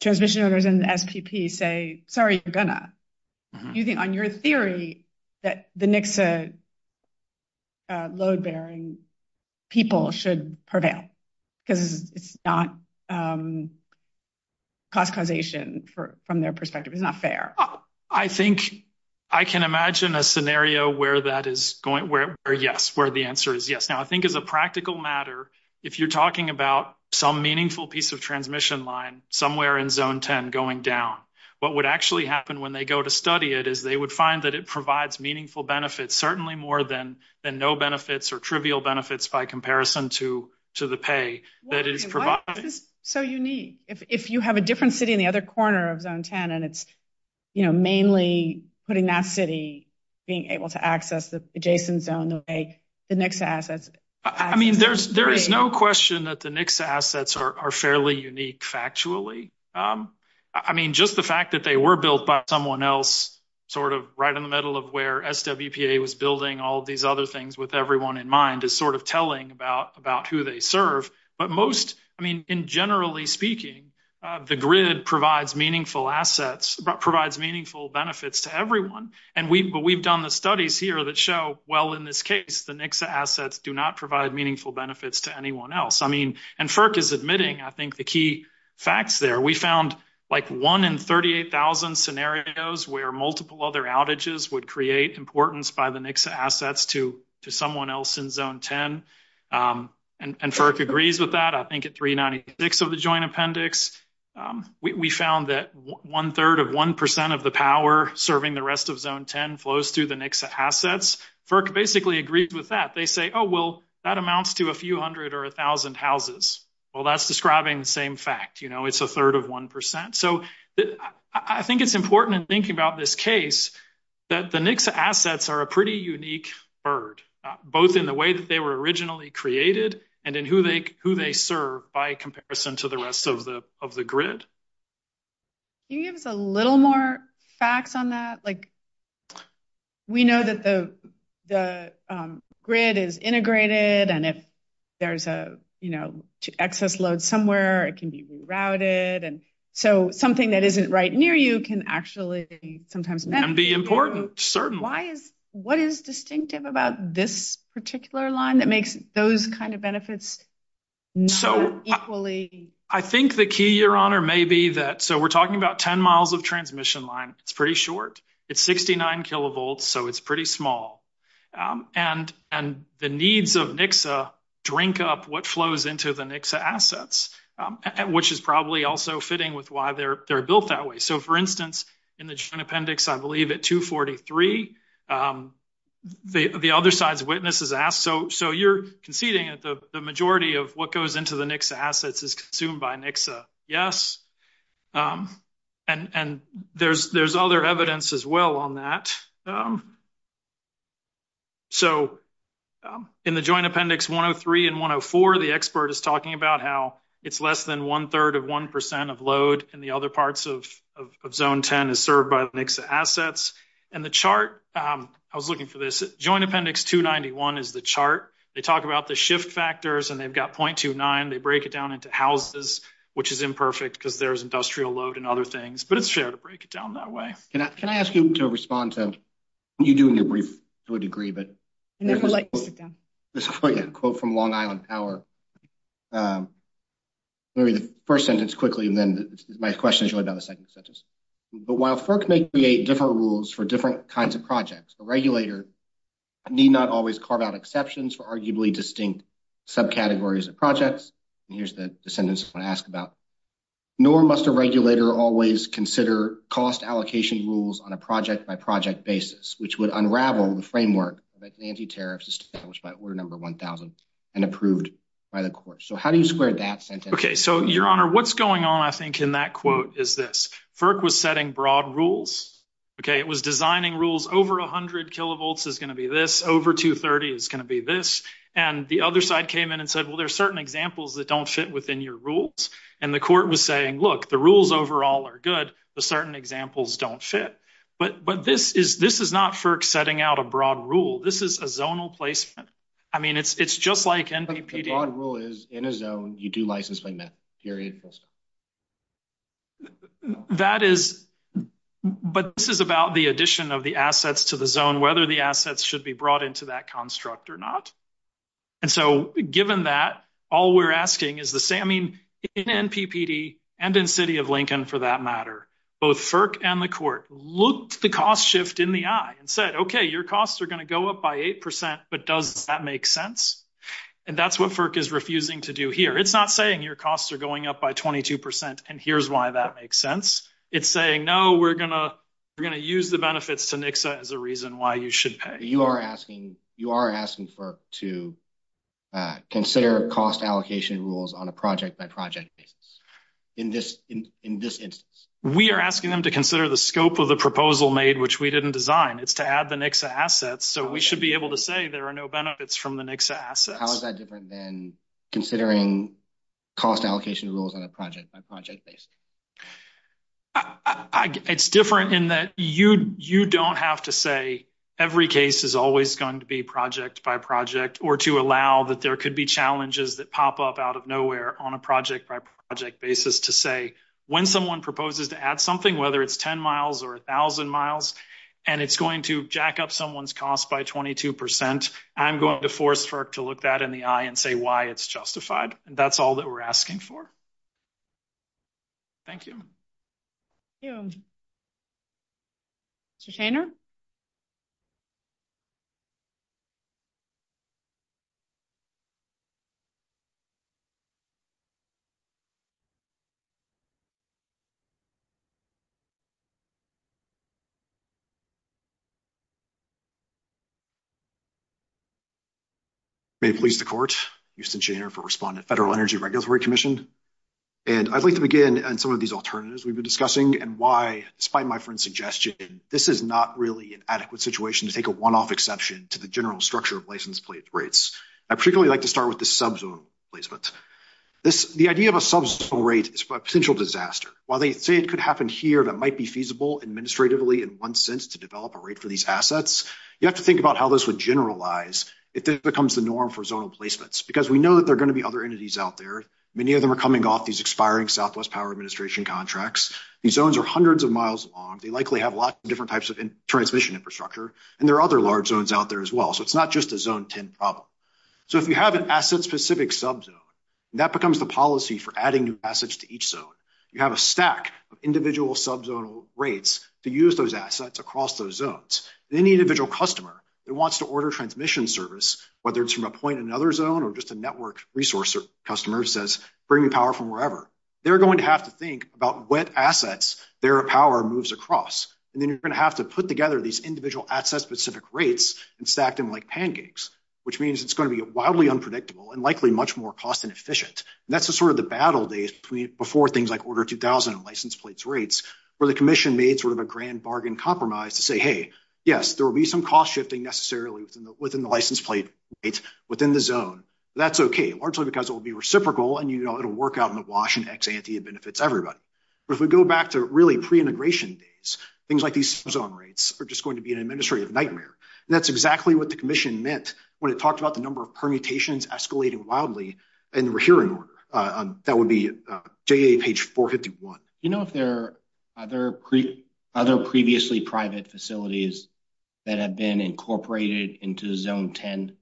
transmission owners and the SPP say, sorry, we're going to. On your theory that the Nixa load bearing people should prevail because it's not cost causation from their perspective. It's not fair. I think I can imagine a scenario where that is going, where yes, where the answer is yes. Now, I think as a practical matter, if you're talking about some meaningful piece of transmission line somewhere in Zone 10 going down, what would actually happen when they go to study it is they would find that it provides meaningful benefits, certainly more than no benefits or trivial benefits by comparison to the pay that is provided. So unique. If you have a different city in the other corner of Zone 10 and it's, you know, mainly putting that city being able to access the adjacent zone, the Nixa assets. I mean, there is no question that the Nixa assets are fairly unique factually. I mean, just the fact that they were built by someone else sort of right in the middle of where SWPA was building all these other things with everyone in mind is sort of telling about who they serve. But most, I mean, in generally speaking, the grid provides meaningful assets, provides meaningful benefits to everyone. And we've done the studies here that show, well, in this case, the Nixa assets do not provide meaningful benefits to anyone else. I mean, and FERC is admitting, I think, the key facts there. We found like one in 38,000 scenarios where multiple other outages would create importance by the Nixa assets to someone else in Zone 10. And FERC agrees with that, I think, at 396 of the Joint Appendix. We found that one third of one percent of the power serving the rest of Zone 10 flows to the Nixa assets. FERC basically agrees with that. They say, oh, well, that amounts to a few hundred or a thousand houses. Well, that's describing the same fact. You know, it's a third of one percent. I think it's important to think about this case that the Nixa assets are a pretty unique bird, both in the way that they were originally created and in who they serve by comparison to the rest of the grid. Can you give us a little more facts on that? Like, we know that the grid is integrated. And if there's an excess load somewhere, it can be rerouted. And so something that isn't right near you can actually sometimes be important. Certainly. What is distinctive about this particular line that makes those kind of benefits equally? I think the key, Your Honor, may be that so we're talking about 10 miles of transmission line. It's pretty short. It's 69 kilovolts. So it's pretty small. And the needs of Nixa drink up what flows into the Nixa assets, which is probably also fitting with why they're built that way. So, for instance, in the appendix, I believe, at 243, the other side's witness is asked. So you're conceding that the majority of what goes into the Nixa assets is consumed by Nixa. Yes. And there's other evidence as well on that. So in the joint appendix, 103 and 104, the expert is talking about how it's less than one third of one percent of load. And the other parts of zone 10 is served by Nixa assets. And the chart I was looking for this joint appendix to 91 is the chart. They talk about the shift factors and they've got point to nine. They break it down into houses, which is imperfect because there's industrial load and other things. But it's fair to break it down that way. Can I ask you to respond to, you do in your brief to a degree, but there's a quote from Long Island Power. Let me read the first sentence quickly, and then my question is really about the second sentence. But while FERC may create different rules for different kinds of projects, the regulator need not always carve out exceptions for arguably distinct subcategories of projects. And here's the sentence I want to ask about. Nor must a regulator always consider cost allocation rules on a project-by-project basis, which would unravel the framework of anti-tariffs established by order number 1,000 and approved by the court. So how do you square that sentence? Okay. So, Your Honor, what's going on, I think, in that quote is this. FERC was setting broad rules. Okay. It was designing rules. Over 100 kilovolts is going to be this. Over 230 is going to be this. And the other side came in and said, well, there are certain examples that don't fit within your rules. And the court was saying, look, the rules overall are good. The certain examples don't fit. But this is not FERC setting out a broad rule. This is a zonal placement. I mean, it's just like NVPD. The broad rule is in a zone, you do licensing. Period. That is, but this is about the addition of the assets to the zone, whether the assets should be brought into that construct or not. And so, given that, all we're asking is the same. I mean, in NPPD and in City of Lincoln, for that matter, both FERC and the court looked the cost shift in the eye and said, okay, your costs are going to go up by 8%. But does that make sense? And that's what FERC is refusing to do here. It's not saying your costs are going up by 22% and here's why that makes sense. It's saying, no, we're going to use the benefits to NXA as a reason why you should pay. You are asking FERC to consider cost allocation rules on a project-by-project basis in this instance? We are asking them to consider the scope of the proposal made, which we didn't design. It's to add the NXA assets. So we should be able to say there are no benefits from the NXA assets. How is that different than considering cost allocation rules on a project-by-project basis? It's different in that you don't have to say every case is always going to be project-by-project or to allow that there could be challenges that pop up out of nowhere on a project-by-project basis to say when someone proposes to add something, whether it's 10 miles or 1,000 miles, and it's going to jack up someone's cost by 22%, I'm going to force FERC to look that in the eye and say why it's justified. That's all that we're asking for. Thank you. Thank you. Mr. Taylor? May it please the court. Euston Shaner for Respondent. Federal Energy Regulatory Commission. And I'd like to begin on some of these alternatives we've been discussing and why, despite my friend's suggestion, this is not really an adequate situation to take a one-off exception to the general structure of license plates rates. I'd particularly like to start with the subzone placement. The idea of a subzone rate is for a potential disaster. While they say it could happen here that might be feasible administratively in one sense to develop a rate for these assets, you have to think about how this would generalize if this becomes the norm for zone placements. Because we know that there are going to be other entities out there. Many of them are coming off these expiring Southwest Power Administration contracts. These zones are hundreds of miles long. They likely have lots of different types of transmission infrastructure. And there are other large zones out there as well. So it's not just a zone 10 problem. So if you have an asset-specific subzone, that becomes the policy for adding new assets to each zone. You have a stack of individual subzone rates to use those assets across those zones. And any individual customer that wants to order transmission service, whether it's from a point in another zone or just a network resource customer, says bring power from wherever, they're going to have to think about what assets their power moves across. And then you're going to have to put together these individual asset-specific rates and stack them like pancakes. Which means it's going to be wildly unpredictable and likely much more cost inefficient. And that's the sort of the battle days before things like Order 2000 and license plates rates where the commission made sort of a grand bargain compromise to say, hey, yes, there will be some cost shifting necessarily within the license plate rates within the zone. That's okay. Largely because it will be reciprocal and it will work out in the wash and ex ante, it benefits everybody. But if we go back to really pre-immigration days, things like these subzone rates are just going to be an administrative nightmare. And that's exactly what the commission meant when it talked about the number of permutations escalating wildly in the hearing order. That would be JA page 451. Do you know if there are other previously private facilities that have been incorporated into zone 10?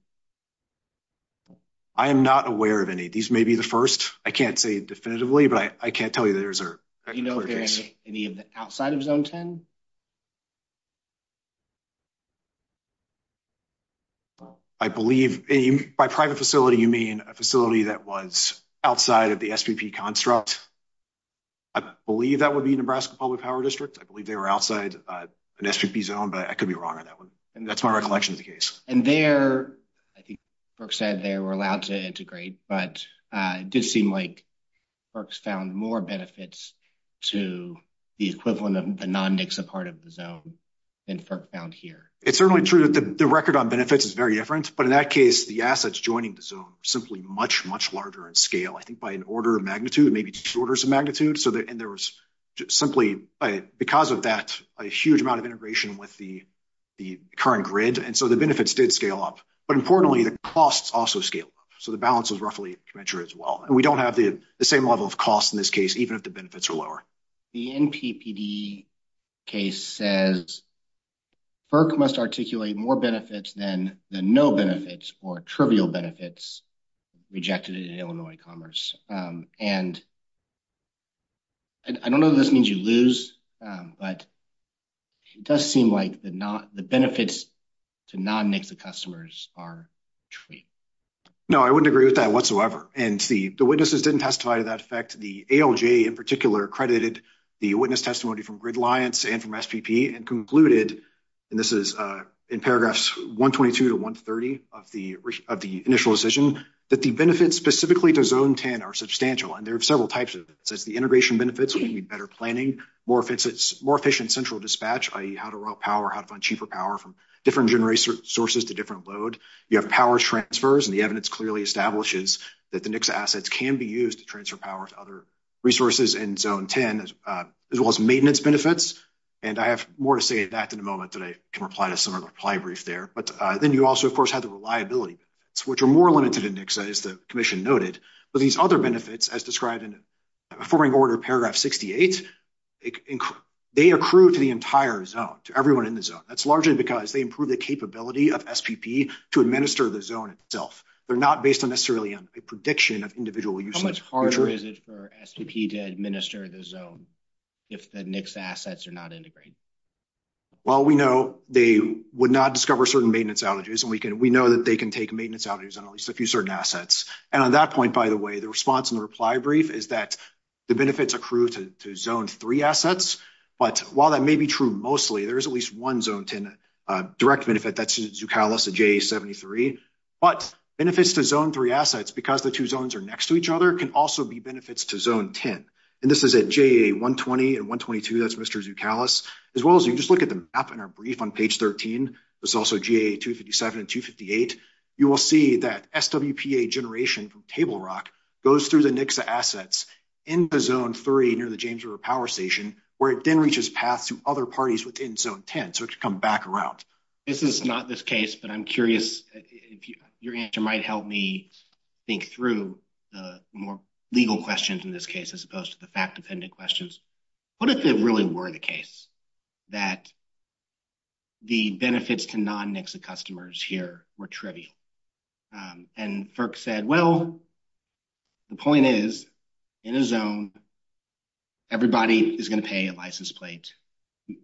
I am not aware of any. These may be the first. I can't say definitively, but I can't tell you that there is a particular case. Do you know if there is any outside of zone 10? I believe by private facility you mean a facility that was outside of the SVP construct. I believe that would be Nebraska Public Power District. I believe they were outside the SVP zone, but I could be wrong on that one. And that's my recollection of the case. FERC said they were allowed to integrate, but it did seem like FERC found more benefits to the equivalent of a non-MIXA part of the zone than FERC found here. It's certainly true that the record on benefits is very different, but in that case, the assets joining the zone are simply much, much larger in scale. I think by an order of magnitude, maybe two orders of magnitude. And there was simply, because of that, a huge amount of integration with the current grid. And so the benefits did scale up. But importantly, the costs also scaled up. So the balance was roughly the same as well. And we don't have the same level of cost in this case, even if the benefits are lower. The NPPD case says FERC must articulate more benefits than the no benefits or trivial benefits rejected in Illinois Commerce. And I don't know if this means you lose, but it does seem like the benefits to non-MIXA customers are treated. No, I wouldn't agree with that whatsoever. And the witnesses didn't testify to that fact. The ALG in particular credited the witness testimony from Grid Alliance and from SVP and concluded, and this is in paragraphs 122 to 130 of the initial decision, that the benefits specifically to zone 10 are substantial. And there are several types of benefits. There's the integration benefits, meaning better planning, more efficient central dispatch, i.e. how to route power, how to find cheaper power from different generation sources to different load. You have power transfers, and the evidence clearly establishes that the NICSA assets can be used to transfer power to other resources in zone 10, as well as maintenance benefits. And I have more to say about that in a moment, but I can reply to some of the reply brief there. But then you also, of course, have the reliability, which are more limited in NICSA, as the commission noted. But these other benefits, as described in the following order, paragraph 68, they accrue to the entire zone, to everyone in the zone. That's largely because they improve the capability of SVP to administer the zone itself. They're not based necessarily on a prediction of individual users. How much harder is it for SVP to administer the zone if the NICSA assets are not integrated? Well, we know they would not discover certain maintenance outages, and we know that they can take maintenance outages on at least a few certain assets. And on that point, by the way, the response in the reply brief is that the benefits accrue to zone 3 assets. But while that may be true mostly, there is at least one zone 10 direct benefit. That's Zucalus and JA73. But benefits to zone 3 assets, because the two zones are next to each other, can also be benefits to zone 10. And this is at JA120 and 122. That's Mr. Zucalus. As well as you can just look at the map in our brief on page 13. There's also JA257 and 258. You will see that SWPA generation from Table Rock goes through the NICSA assets in the zone 3 near the James River Power Station, where it then reaches path to other parties within zone 10. So it should come back around. This is not this case, but I'm curious if your answer might help me think through the more legal questions in this case as opposed to the fact-dependent questions. What if it really were the case that the benefits to non-NICSA customers here were trivial? And FERC said, well, the point is, in a zone, everybody is going to pay a license plate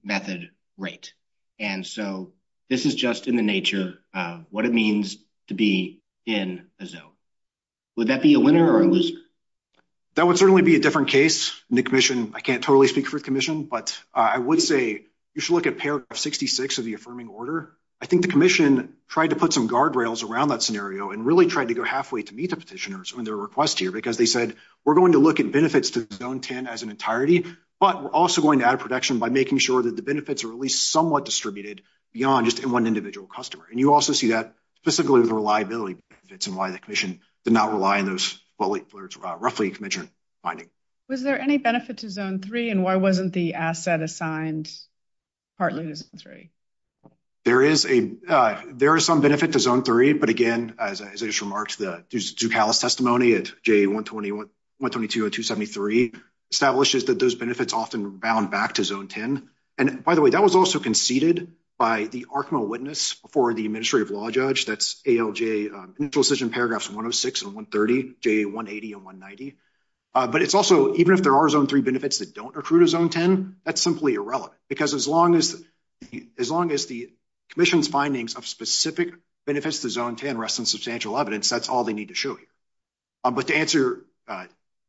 method rate. And so this is just in the nature of what it means to be in a zone. Would that be a winner or a loser? That would certainly be a different case in the commission. I can't totally speak for the commission, but I would say you should look at paragraph 66 of the affirming order. I think the commission tried to put some guardrails around that scenario and really tried to go halfway to meet the petitioners on their request here, because they said, we're going to look at benefits to zone 10 as an entirety, but we're also going to add a protection by making sure that the benefits are at least somewhat distributed beyond just one individual customer. And you also see that specifically with the reliability benefits and why the commission did not rely on those roughly in commission finding. Was there any benefit to zone 3, and why wasn't the asset assigned partly to zone 3? There is some benefit to zone 3, but again, as I just remarked, the Duke-Hallis testimony at JA 120.122.273 establishes that those benefits often rebound back to zone 10. And by the way, that was also conceded by the ARCMA witness before the administrative law judge. That's ALJ, initial decision paragraphs 106 and 130, JA 180 and 190. But it's also, even if there are zone 3 benefits that don't accrue to zone 10, that's simply irrelevant. Because as long as the commission's findings of specific benefits to zone 10 rest in substantial evidence, that's all they need to show you. But to answer,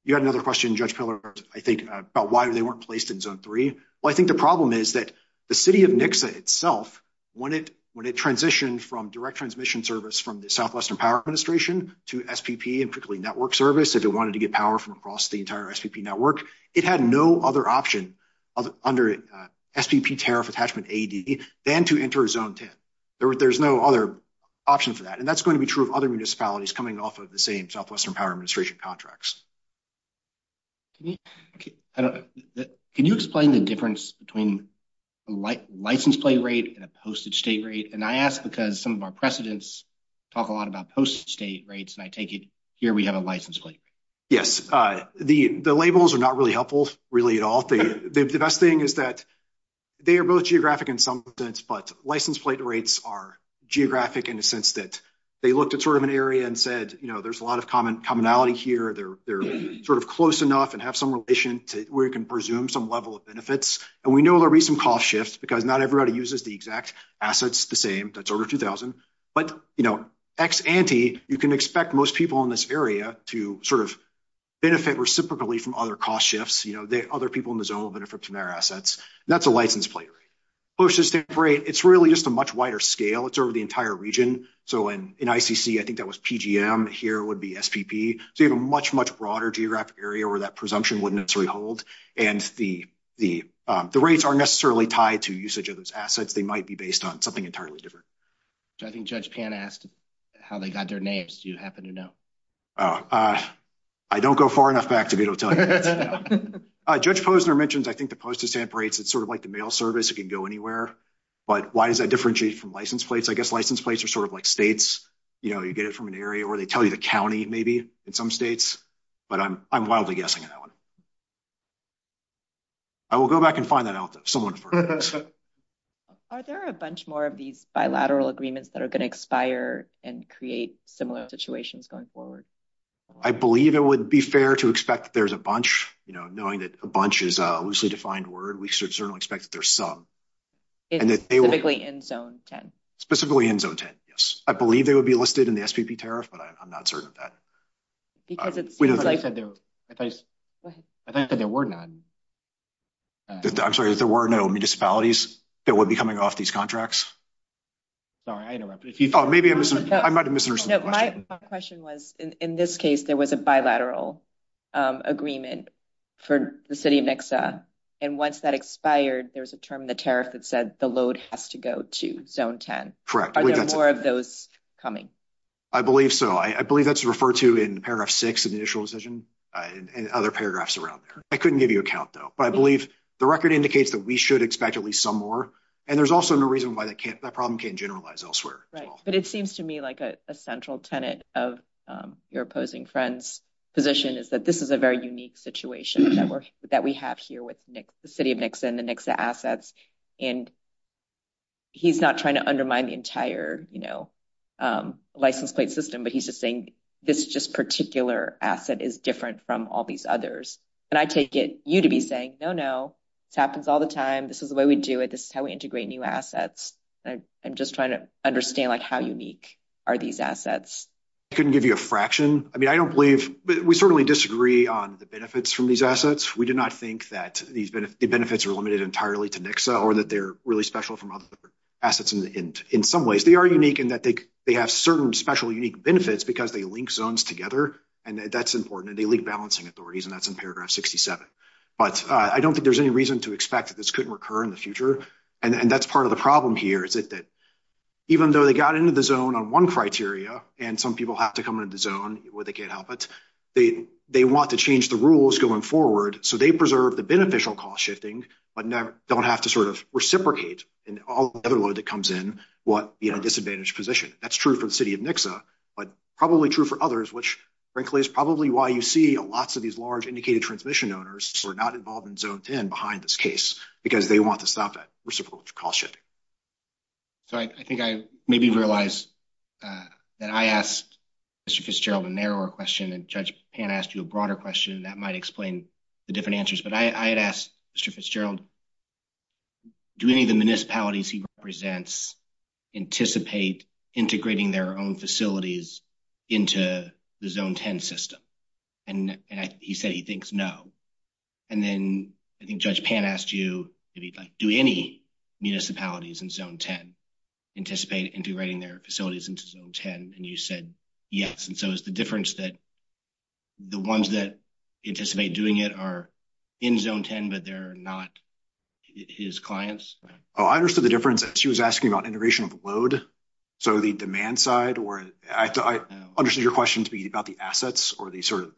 you had another question, Judge Piller, I think, about why they weren't placed in zone 3. Well, I think the problem is that the city of Nixa itself, when it transitioned from direct transmission service from the Southwestern Power Administration to SPP and quickly network service, if it wanted to get power from across the entire SPP network, it had no other option under SPP tariff attachment ADD than to enter zone 10. There's no other option for that. And that's going to be true of other municipalities coming off of the same Southwestern Power Administration contracts. Can you explain the difference between a license plate rate and a posted state rate? And I ask because some of our precedents talk a lot about posted state rates, and I take it here we have a license plate. Yes. The labels are not really helpful, really, at all. The best thing is that they are both geographic in some sense, but license plate rates are geographic in the sense that they looked at sort of an area and said, you know, there's a lot of commonality here. They're sort of close enough and have some relation to where you can presume some level of benefits. And we know there will be some cost shifts because not everybody uses the exact assets the same. That's over 2,000. But, you know, ex ante, you can expect most people in this area to sort of benefit reciprocally from other cost shifts. You know, other people in the zone will benefit from their assets. That's a license plate rate. Posted state rate, it's really just a much wider scale. It's over the entire region. So in ICC, I think that was PGM. Here would be SPP. So you have a much, much broader geographic area where that presumption wouldn't necessarily hold. And the rates aren't necessarily tied to usage of those assets. They might be based on something entirely different. I think Judge Pan asked how they got their names. Do you happen to know? I don't go far enough back to be able to tell you. Judge Posner mentions, I think, the posted stamp rates. It's sort of like the mail service. It can go anywhere. But why does that differentiate from license plates? I guess license plates are sort of like states. You know, you get it from an area or they tell you the county, maybe, in some states. But I'm wildly guessing at that one. I will go back and find that out, though. Someone first. Are there a bunch more of these bilateral agreements that are going to expire and create similar situations going forward? I believe it would be fair to expect there's a bunch, you know, knowing that a bunch is a loosely defined word. We should certainly expect that there's some. Specifically in Zone 10? Specifically in Zone 10, yes. I believe they would be listed in the SVP tariff, but I'm not certain of that. I thought you said there were none. I'm sorry, there were no municipalities that would be coming off these contracts? Sorry, I interrupted. I might have misunderstood. My question was, in this case, there was a bilateral agreement for the city of Nixa. And once that expired, there's a term in the tariff that said the load has to go to Zone 10. Correct. Are there more of those coming? I believe so. I believe that's referred to in paragraph six of the initial decision and other paragraphs around there. I couldn't give you a count, though, but I believe the record indicates that we should expect at least some more. And there's also no reason why that problem can't generalize elsewhere. But it seems to me like a central tenet of your opposing friend's position is that this is a very unique situation that we have here with the city of Nixa and the Nixa assets. And he's not trying to undermine the entire, you know, license plate system, but he's just saying this just particular asset is different from all these others. And I take it you to be saying, no, no, this happens all the time. This is the way we do it. This is how we integrate new assets. I'm just trying to understand, like, how unique are these assets? I couldn't give you a fraction. I mean, I don't believe – we certainly disagree on the benefits from these assets. We do not think that the benefits are limited entirely to Nixa or that they're really special from other assets in some ways. They are unique in that they have certain special unique benefits because they link zones together. And that's important. And they link balancing authorities, and that's in paragraph 67. But I don't think there's any reason to expect that this could recur in the future. And that's part of the problem here is that even though they got into the zone on one criteria, and some people have to come into the zone where they can't help it, they want to change the rules going forward. So they preserve the beneficial cost shifting but don't have to sort of reciprocate in all the other way that comes in what, you know, disadvantaged position. That's true for the city of Nixa, but probably true for others, which, frankly, is probably why you see lots of these large indicated transmission owners who are not involved in zone 10 behind this case, because they want to stop that reciprocal cost shifting. So I think I maybe realized that I asked Mr. Fitzgerald a narrower question, and Judge Pan asked you a broader question that might explain the different answers. But I had asked Mr. Fitzgerald, do any of the municipalities he represents anticipate integrating their own facilities into the zone 10 system? And he said he thinks no. And then I think Judge Pan asked you, do any municipalities in zone 10 anticipate integrating their facilities into zone 10? And you said yes. And so is the difference that the ones that anticipate doing it are in zone 10 but they're not his clients? Oh, I understood the difference. She was asking about integration of load, so the demand side. I understood your question to be about the assets or the sort of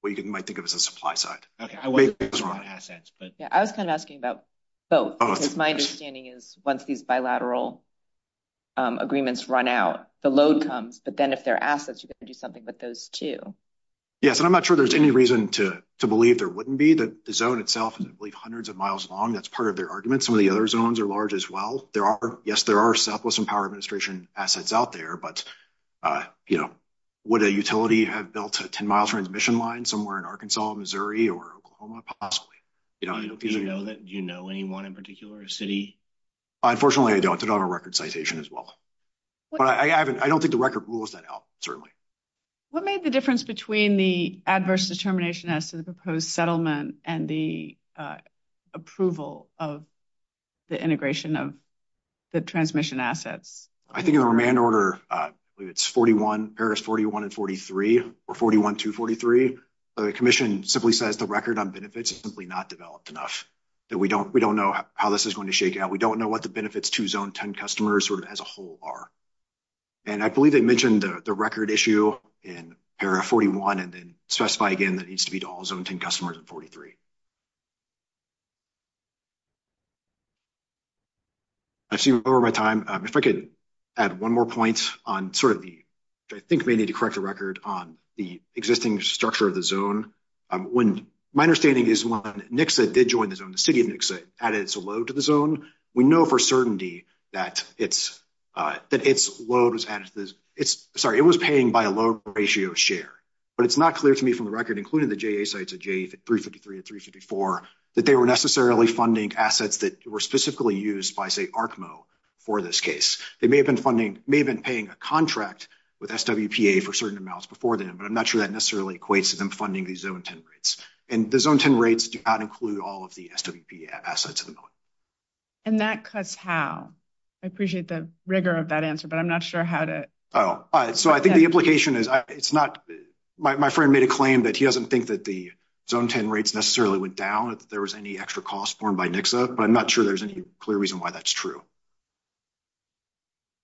what you might think of as a supply side. I was kind of asking about both, because my understanding is once these bilateral agreements run out, the load comes. But then if they're assets, you've got to do something with those, too. Yes, and I'm not sure there's any reason to believe there wouldn't be. The zone itself is hundreds of miles long. That's part of their argument. Some of the other zones are large as well. Yes, there are Southwestern Power Administration assets out there. Would a utility have built a 10-mile transmission line somewhere in Arkansas, Missouri, or Oklahoma? Possibly. Do you know anyone in a particular city? Unfortunately, I don't. I don't have a record citation as well. I don't think the record rules that out, certainly. What made the difference between the adverse determination as to the proposed settlement and the approval of the integration of the transmission asset? I think in the remand order, it's Paris 41 and 43, or 41 through 43. The commission simply says the record on benefits is simply not developed enough. We don't know how this is going to shake out. We don't know what the benefits to Zone 10 customers as a whole are. And I believe they mentioned the record issue in Paris 41 and then specify again that it needs to be to all Zone 10 customers in 43. I seem to be over my time. If I could add one more point on sort of the, I think we need to correct the record on the existing structure of the zone. My understanding is when Nixa did join the zone, the city of Nixa added its load to the zone. We know for certainty that its load was added to this. Sorry, it was paying by a load ratio share. But it's not clear to me from the record, including the JA sites at 353 and 354, that they were necessarily funding assets that were specifically used by, say, ARCMO for this case. They may have been funding, may have been paying a contract with SWPA for certain amounts before then, but I'm not sure that necessarily equates to them funding these Zone 10 rates. And the Zone 10 rates do not include all of the SWPA assets at the moment. And that cuts how? I appreciate the rigor of that answer, but I'm not sure how to. So I think the implication is, it's not, my friend made a claim that he doesn't think that the Zone 10 rates necessarily went down if there was any extra cost borne by Nixa. But I'm not sure there's any clear reason why that's true.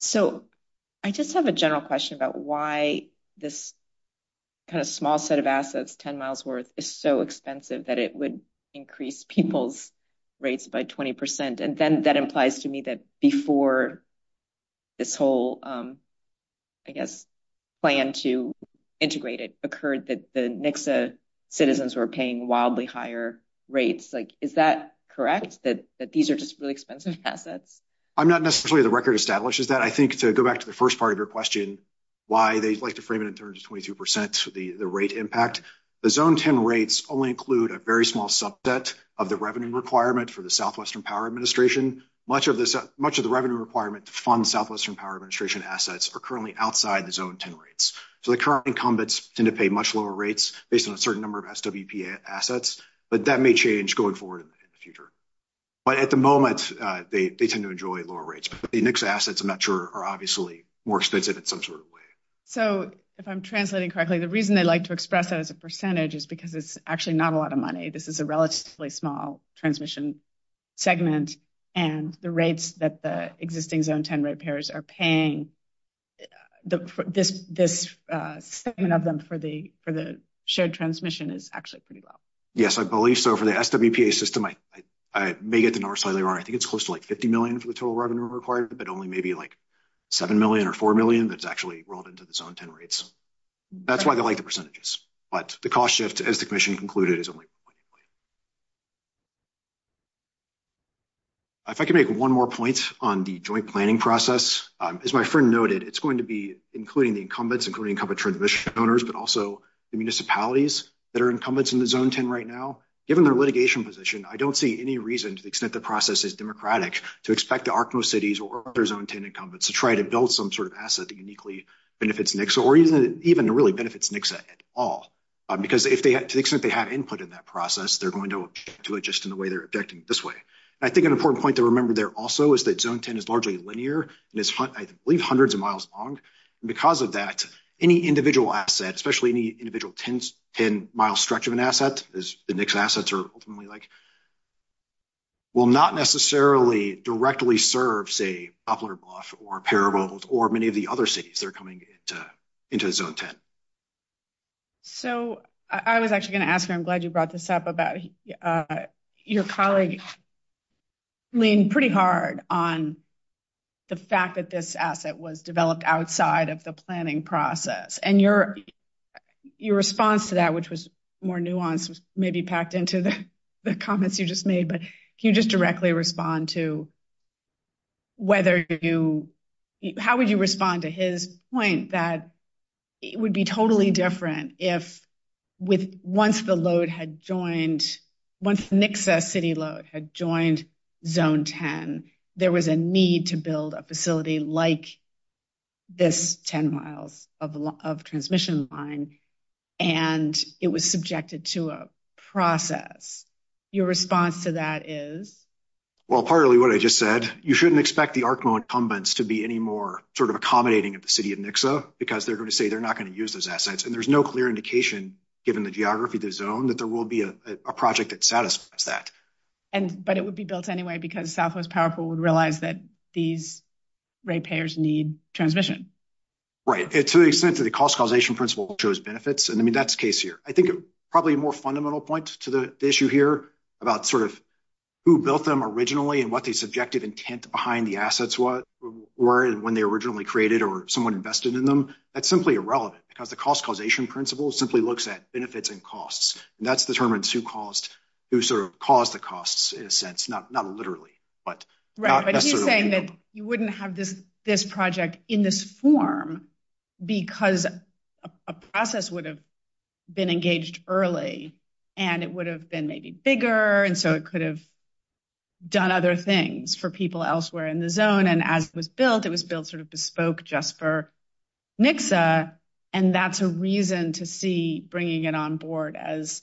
So I just have a general question about why this kind of small set of assets, 10 miles worth, is so expensive that it would increase people's rates by 20%. And then that implies to me that before this whole, I guess, plan to integrate it occurred, that the Nixa citizens were paying wildly higher rates. Like, is that correct? That these are just really expensive assets? I'm not necessarily the record establishes that. I think to go back to the first part of your question, why they'd like to frame it in terms of 22%, the rate impact. The Zone 10 rates only include a very small subset of the revenue requirement for the Southwestern Power Administration. Much of the revenue requirement to fund Southwestern Power Administration assets are currently outside the Zone 10 rates. So the current incumbents tend to pay much lower rates based on a certain number of SWPA assets. But that may change going forward in the future. But at the moment, they tend to enjoy lower rates. But the Nixa assets, I'm not sure, are obviously more expensive in some sort of way. So if I'm translating correctly, the reason they like to express it as a percentage is because it's actually not a lot of money. This is a relatively small transmission segment. And the rates that the existing Zone 10 rate payers are paying, this segment of them for the shared transmission is actually pretty low. Yes, I believe so. So for the SWPA system, I may get the north side of the room. I think it's close to like $50 million for the total revenue required, but only maybe like $7 million or $4 million that's actually rolled into the Zone 10 rates. That's why they like the percentages. But the cost shift, as the commission concluded, is only... If I could make one more point on the joint planning process. As my friend noted, it's going to be including the incumbents, including incumbent transmission owners, but also the municipalities that are incumbents in the Zone 10 right now. Given their litigation position, I don't see any reason to the extent the process is democratic to expect the ARCMO cities or other Zone 10 incumbents to try to build some sort of asset that uniquely benefits Nixa or even really benefits Nixa at all. Because to the extent they have input in that process, they're going to object to it just in the way they're objecting this way. I think an important point to remember there also is that Zone 10 is largely linear. It's, I believe, hundreds of miles long. Because of that, any individual asset, especially any individual 10-mile stretch of an asset, as Nixa assets are ultimately like, will not necessarily directly serve, say, Poplar Bluff or Parable or many of the other cities that are coming into Zone 10. So I was actually going to ask, and I'm glad you brought this up, about your colleagues leaning pretty hard on the fact that this asset was developed outside of the planning process. And your response to that, which was more nuanced, was maybe packed into the comments you just made. But if you just directly respond to whether you – how would you respond to his point that it would be totally different if with – once the load had joined – once Nixa city load had joined Zone 10, there was a need to build a facility like this 10 miles of transmission line, and it was subjected to a process. Your response to that is? Well, partly what I just said. You shouldn't expect the ARCMO incumbents to be any more sort of accommodating of the city of Nixa, because they're going to say they're not going to use those assets. And there's no clear indication, given the geography of the Zone, that there will be a project that satisfies that. But it would be built anyway, because Southwest Powerful would realize that these rate payers need transmission. Right. To the extent that the cost causation principle shows benefits – I mean, that's the case here. I think probably a more fundamental point to the issue here about sort of who built them originally and what the subjective intent behind the assets were and when they were originally created or someone invested in them, that's simply irrelevant. Because the cost causation principle simply looks at benefits and costs. And that determines who sort of caused the costs, in a sense. Not literally. Right. But you're saying that you wouldn't have this project in this form because a process would have been engaged early, and it would have been maybe bigger, and so it could have done other things for people elsewhere in the Zone. And as it was built, it was built sort of bespoke just for NXA, and that's a reason to see bringing it on board as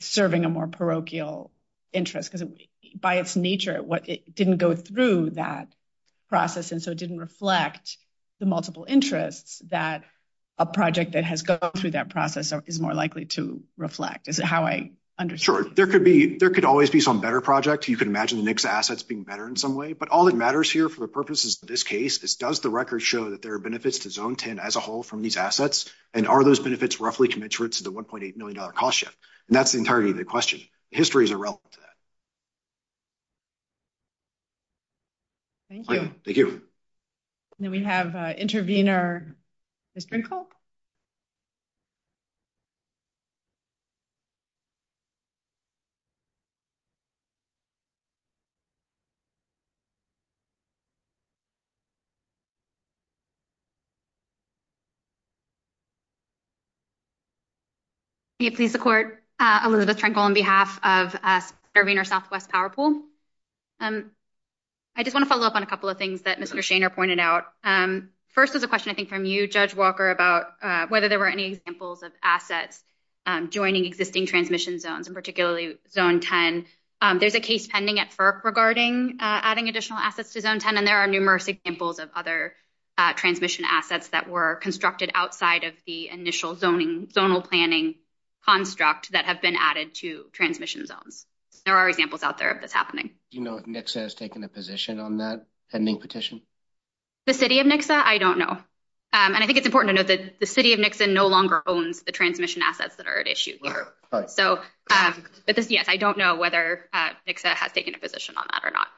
serving a more parochial interest. Because by its nature, it didn't go through that process, and so it didn't reflect the multiple interests that a project that has gone through that process is more likely to reflect. Is that how I understand it? Sure. There could always be some better projects. You could imagine NXA assets being better in some way. But all that matters here for the purposes of this case is does the record show that there are benefits to Zone 10 as a whole from these assets? And are those benefits roughly commensurate to the $1.8 million cost yet? And that's the entirety of the question. History is irrelevant to that. Thank you. Thank you. We have Intervenor Strinkle. Please support Elizabeth Strinkle on behalf of Intervenor Southwest Power Pool. I just want to follow up on a couple of things that Mr. Shainer pointed out. First is a question, I think, from you, Judge Walker, about whether there were any examples of assets joining existing transmission zones, and particularly Zone 10. There's a case pending at FERC regarding adding additional assets to Zone 10, and there are numerous examples of other transmission assets that were constructed outside of the initial zonal planning construct that have been added to transmission zones. There are examples out there of this happening. Do you know if NXA has taken a position on that pending petition? The City of NXA? I don't know. And I think it's important to note that the City of NXA no longer owns the transmission assets that are at issue here. So, yes, I don't know whether NXA has taken a position on that or not.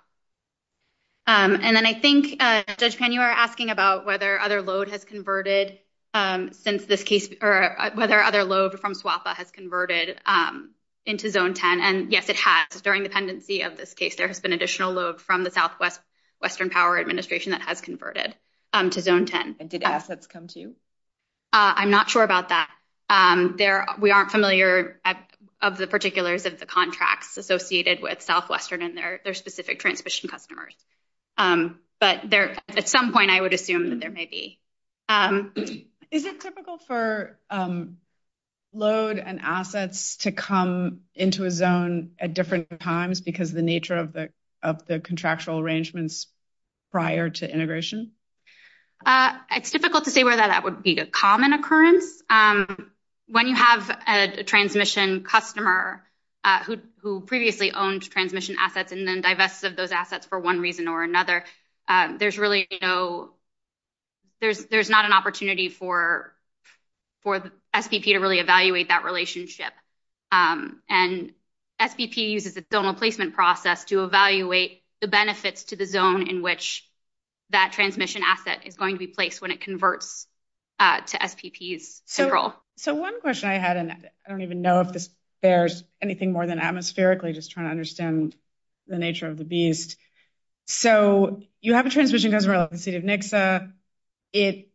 And then I think, Judge Penn, you were asking about whether other load has converted since this case, or whether other load from SWFA has converted into Zone 10. And yes, it has. During the pendency of this case, there has been additional load from the Southwest Western Power Administration that has converted to Zone 10. And did assets come to you? I'm not sure about that. We aren't familiar of the particulars of the contracts associated with Southwestern and their specific transmission customers. But at some point, I would assume that there may be. Is it typical for load and assets to come into a zone at different times because of the nature of the contractual arrangements prior to integration? It's difficult to say whether that would be a common occurrence. When you have a transmission customer who previously owned transmission assets and then divested those assets for one reason or another, there's not an opportunity for SBP to really evaluate that relationship. And SBP uses its zonal placement process to evaluate the benefits to the zone in which that transmission asset is going to be placed when it converts to SBP's payroll. So one question I had, and I don't even know if this bears anything more than atmospherically, just trying to understand the nature of the beast. So you have a transmission customer in the city of Nixa. It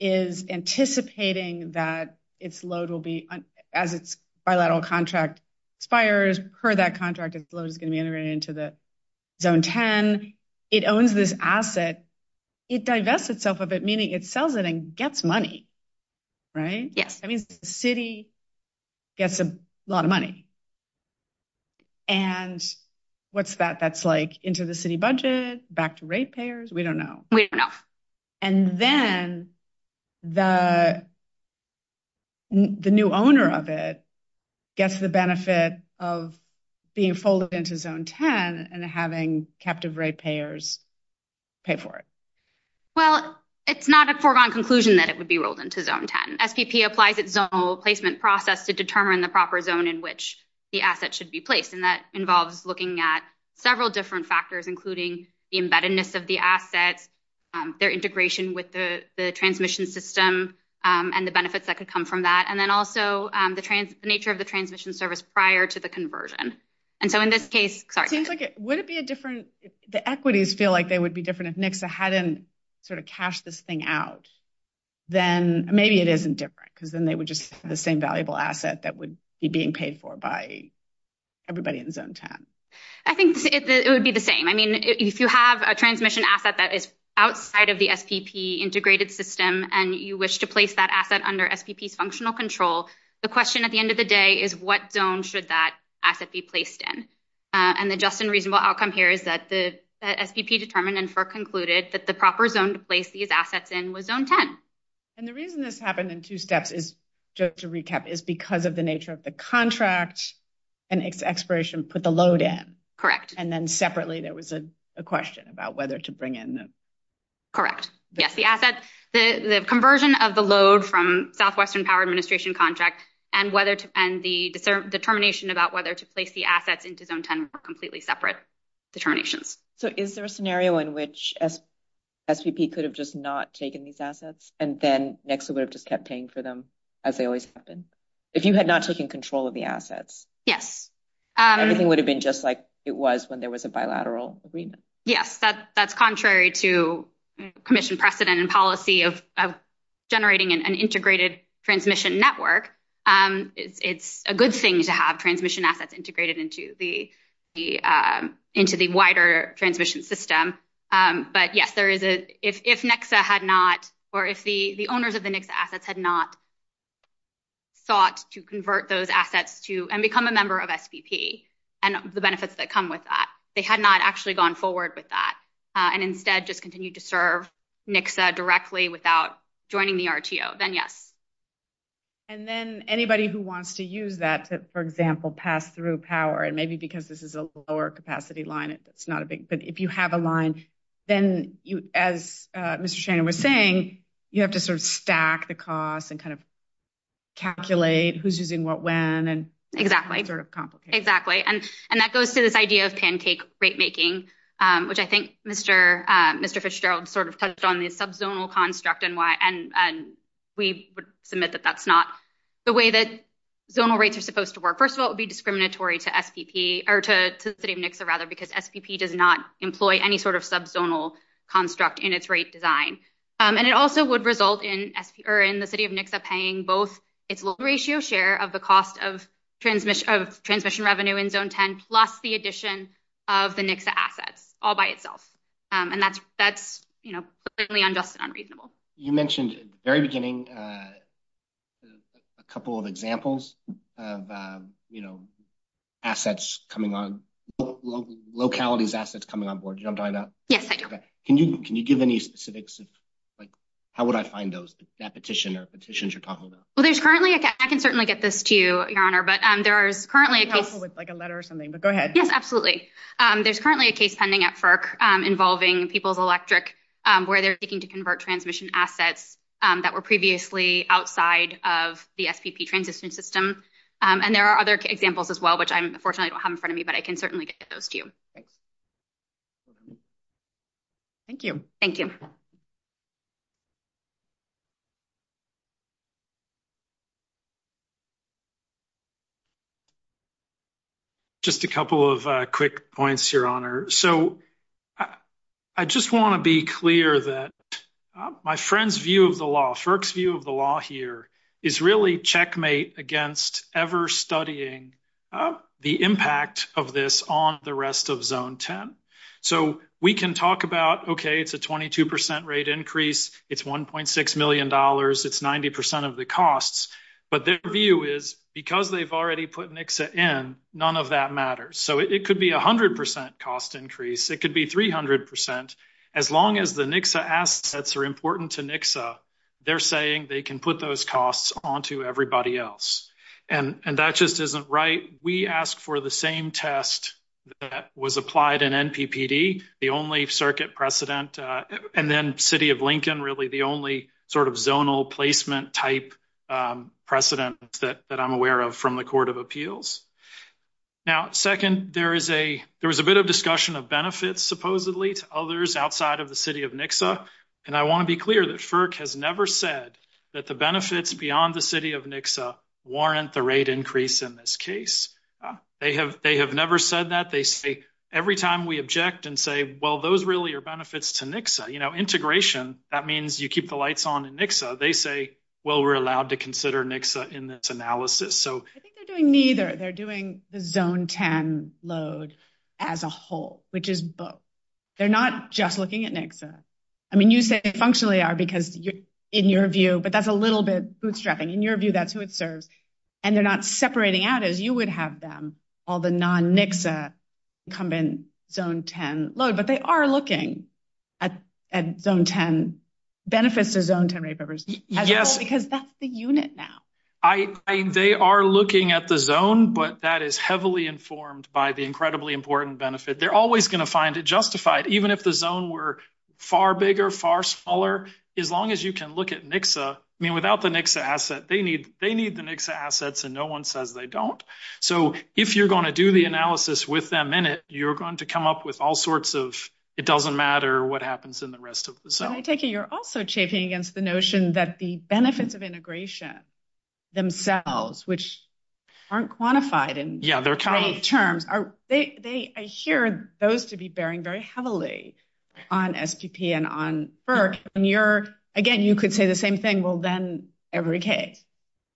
is anticipating that its load will be, as its bilateral contract expires, per that contract, its load is going to be integrated into the Zone 10. It owns this asset. It divests itself of it, meaning it sells it and gets money. Right? That means the city gets a lot of money. And what's that? That's like into the city budget, back to rate payers? We don't know. We don't know. And then the new owner of it gets the benefit of being folded into Zone 10 and having captive rate payers pay for it. Well, it's not a foregone conclusion that it would be rolled into Zone 10. SBP applies its own placement process to determine the proper zone in which the asset should be placed, and that involves looking at several different factors, including the embeddedness of the asset, their integration with the transmission system, and the benefits that could come from that, and then also the nature of the transmission service prior to the conversion. And so in this case, sorry. The equities feel like they would be different if Nixa hadn't sort of cashed this thing out. Then maybe it isn't different because then they would just have the same valuable asset that would be being paid for by everybody in Zone 10. I think it would be the same. I mean, if you have a transmission asset that is outside of the SPP integrated system and you wish to place that asset under SPP functional control, the question at the end of the day is what zone should that asset be placed in? And the just and reasonable outcome here is that the SPP determined and concluded that the proper zone to place these assets in was Zone 10. And the reason this happened in two steps, just to recap, is because of the nature of the contract and its expiration put the load in. Correct. And then separately there was a question about whether to bring in them. Correct. Yes, the assets, the conversion of the load from Southwestern Power Administration contracts and the determination about whether to place the assets into Zone 10 were completely separate determinations. So is there a scenario in which SPP could have just not taken these assets and then Nixa would have just kept paying for them as they always have been? If you had not taken control of the assets. Yes. Everything would have been just like it was when there was a bilateral agreement. Yes, that's contrary to commission precedent and policy of generating an integrated transmission network. It's a good thing to have transmission assets integrated into the wider transmission system. But yes, if Nixa had not, or if the owners of the Nixa assets had not thought to convert those assets and become a member of SPP and the benefits that come with that, they had not actually gone forward with that and instead just continued to serve Nixa directly without joining the RTO, then yes. And then anybody who wants to use that, for example, pass through power, and maybe because this is a lower capacity line, but if you have a line, then as Mr. Shane was saying, you have to sort of stack the costs and kind of calculate who's using what when. Exactly. And that goes to this idea of pancake rate making, which I think Mr. Fitzgerald sort of touched on the subzonal construct and why. And we would submit that that's not the way that zonal rates are supposed to work. First of all, it would be discriminatory to SPP or to the City of Nixa, rather, because SPP does not employ any sort of subzonal construct in its rate design. And it also would result in the City of Nixa paying both its loan ratio share of the cost of transmission revenue in Zone 10 plus the addition of the Nixa assets all by itself. And that's completely unjust and unreasonable. You mentioned at the very beginning a couple of examples of assets coming on, localities' assets coming on board. Yes, I do. Can you give any specifics? How would I find those, that petition or petitions you're talking about? I can certainly get this to you, Your Honor. That would be helpful with a letter or something, but go ahead. Yes, absolutely. There's currently a case pending at FERC involving People's Electric, where they're seeking to convert transmission assets that were previously outside of the SCP transition system. And there are other examples as well, which I unfortunately don't have in front of me, but I can certainly get those to you. Thank you. Thank you. Just a couple of quick points, Your Honor. So I just want to be clear that my friend's view of the law, FERC's view of the law here, is really checkmate against ever studying the impact of this on the rest of Zone 10. So we can talk about, okay, it's a 22% rate increase. It's $1.6 million. It's 90% of the costs. But their view is because they've already put Nixa in, none of that matters. So it could be 100% cost increase. It could be 300%. As long as the Nixa assets are important to Nixa, they're saying they can put those costs onto everybody else. And that just isn't right. We asked for the same test that was applied in NPPD, the only circuit precedent, and then City of Lincoln, really the only sort of zonal placement type precedent that I'm aware of from the Court of Appeals. Now, second, there was a bit of discussion of benefits, supposedly, to others outside of the City of Nixa. And I want to be clear that FERC has never said that the benefits beyond the City of Nixa warrant the rate increase in this case. They have never said that. They say every time we object and say, well, those really are benefits to Nixa. You know, integration, that means you keep the lights on in Nixa. They say, well, we're allowed to consider Nixa in this analysis. I think they're doing neither. They're doing the Zone 10 load as a whole, which is both. They're not just looking at Nixa. I mean, you say they functionally are because, in your view, but that's a little bit bootstrapping. In your view, that's who it serves. And they're not separating out, as you would have them, all the non-Nixa incumbent Zone 10 loads. But they are looking at Zone 10 benefits or Zone 10 rate buffers. Yes. Because that's the unit now. They are looking at the Zone, but that is heavily informed by the incredibly important benefit. They're always going to find it justified, even if the Zone were far bigger, far smaller, as long as you can look at Nixa. I mean, without the Nixa asset, they need the Nixa assets, and no one says they don't. So if you're going to do the analysis with them in it, you're going to come up with all sorts of, it doesn't matter what happens in the rest of the Zone. I take it you're also chafing against the notion that the benefits of integration themselves, which aren't quantified in terms, I hear those to be bearing very heavily on SPP and on FERC. Again, you could say the same thing, well, then every case.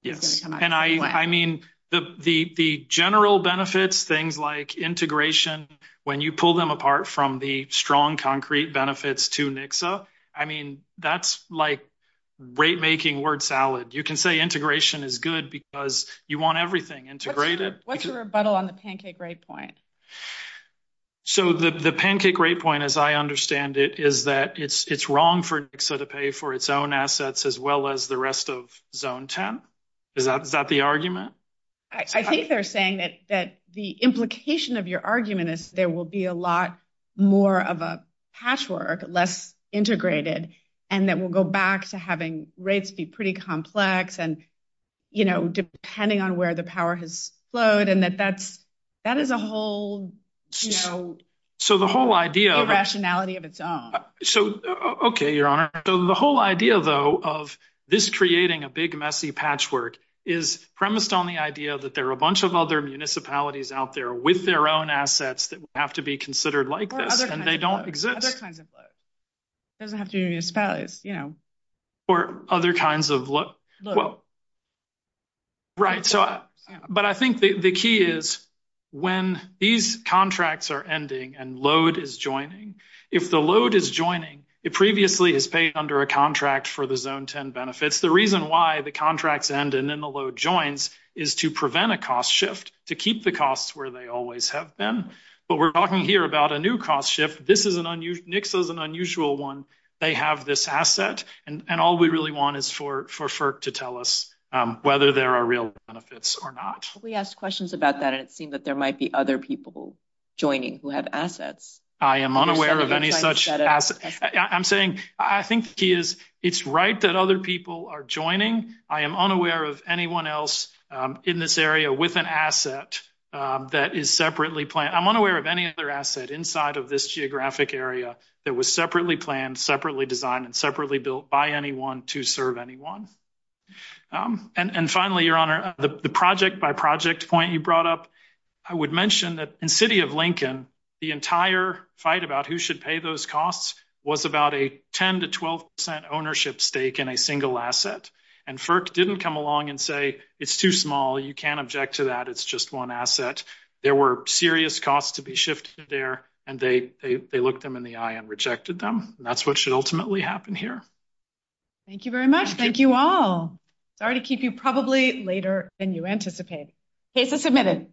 Yes. And I mean, the general benefits, things like integration, when you pull them apart from the strong concrete benefits to Nixa, I mean, that's like rate-making word salad. You can say integration is good because you want everything integrated. What's your rebuttal on the pancake rate point? So the pancake rate point, as I understand it, is that it's wrong for Nixa to pay for its own assets as well as the rest of Zone 10. Is that the argument? I think they're saying that the implication of your argument is there will be a lot more of a patchwork, less integrated, and that we'll go back to having rates be pretty complex and depending on where the power has flowed and that that is a whole rationality of its own. Okay, Your Honor. So the whole idea, though, of this creating a big, messy patchwork is premised on the idea that there are a bunch of other municipalities out there with their own assets that have to be considered like this and they don't exist. Other kinds of loads. It doesn't have to be municipalities. Or other kinds of loads. Loads. Right. But I think the key is when these contracts are ending and load is joining, if the load is joining, it previously is paid under a contract for the Zone 10 benefits. The reason why the contracts end and then the load joins is to prevent a cost shift, to keep the costs where they always have been. But we're talking here about a new cost shift. This is an unusual one. They have this asset. And all we really want is for FERC to tell us whether there are real benefits or not. We asked questions about that and it seemed that there might be other people joining who have assets. I am unaware of any such assets. I'm saying I think the key is it's right that other people are joining. I am unaware of anyone else in this area with an asset that is separately planned. I'm unaware of any other asset inside of this geographic area that was separately planned, separately designed, and separately built by anyone to serve anyone. And finally, Your Honor, the project by project point you brought up, I would mention that in City of Lincoln, the entire fight about who should pay those costs was about a 10 to 12 percent ownership stake in a single asset. And FERC didn't come along and say it's too small, you can't object to that, it's just one asset. There were serious costs to be shifted there and they looked them in the eye and rejected them. And that's what should ultimately happen here. Thank you very much. Thank you all. Sorry to keep you probably later than you anticipate. Cases submitted.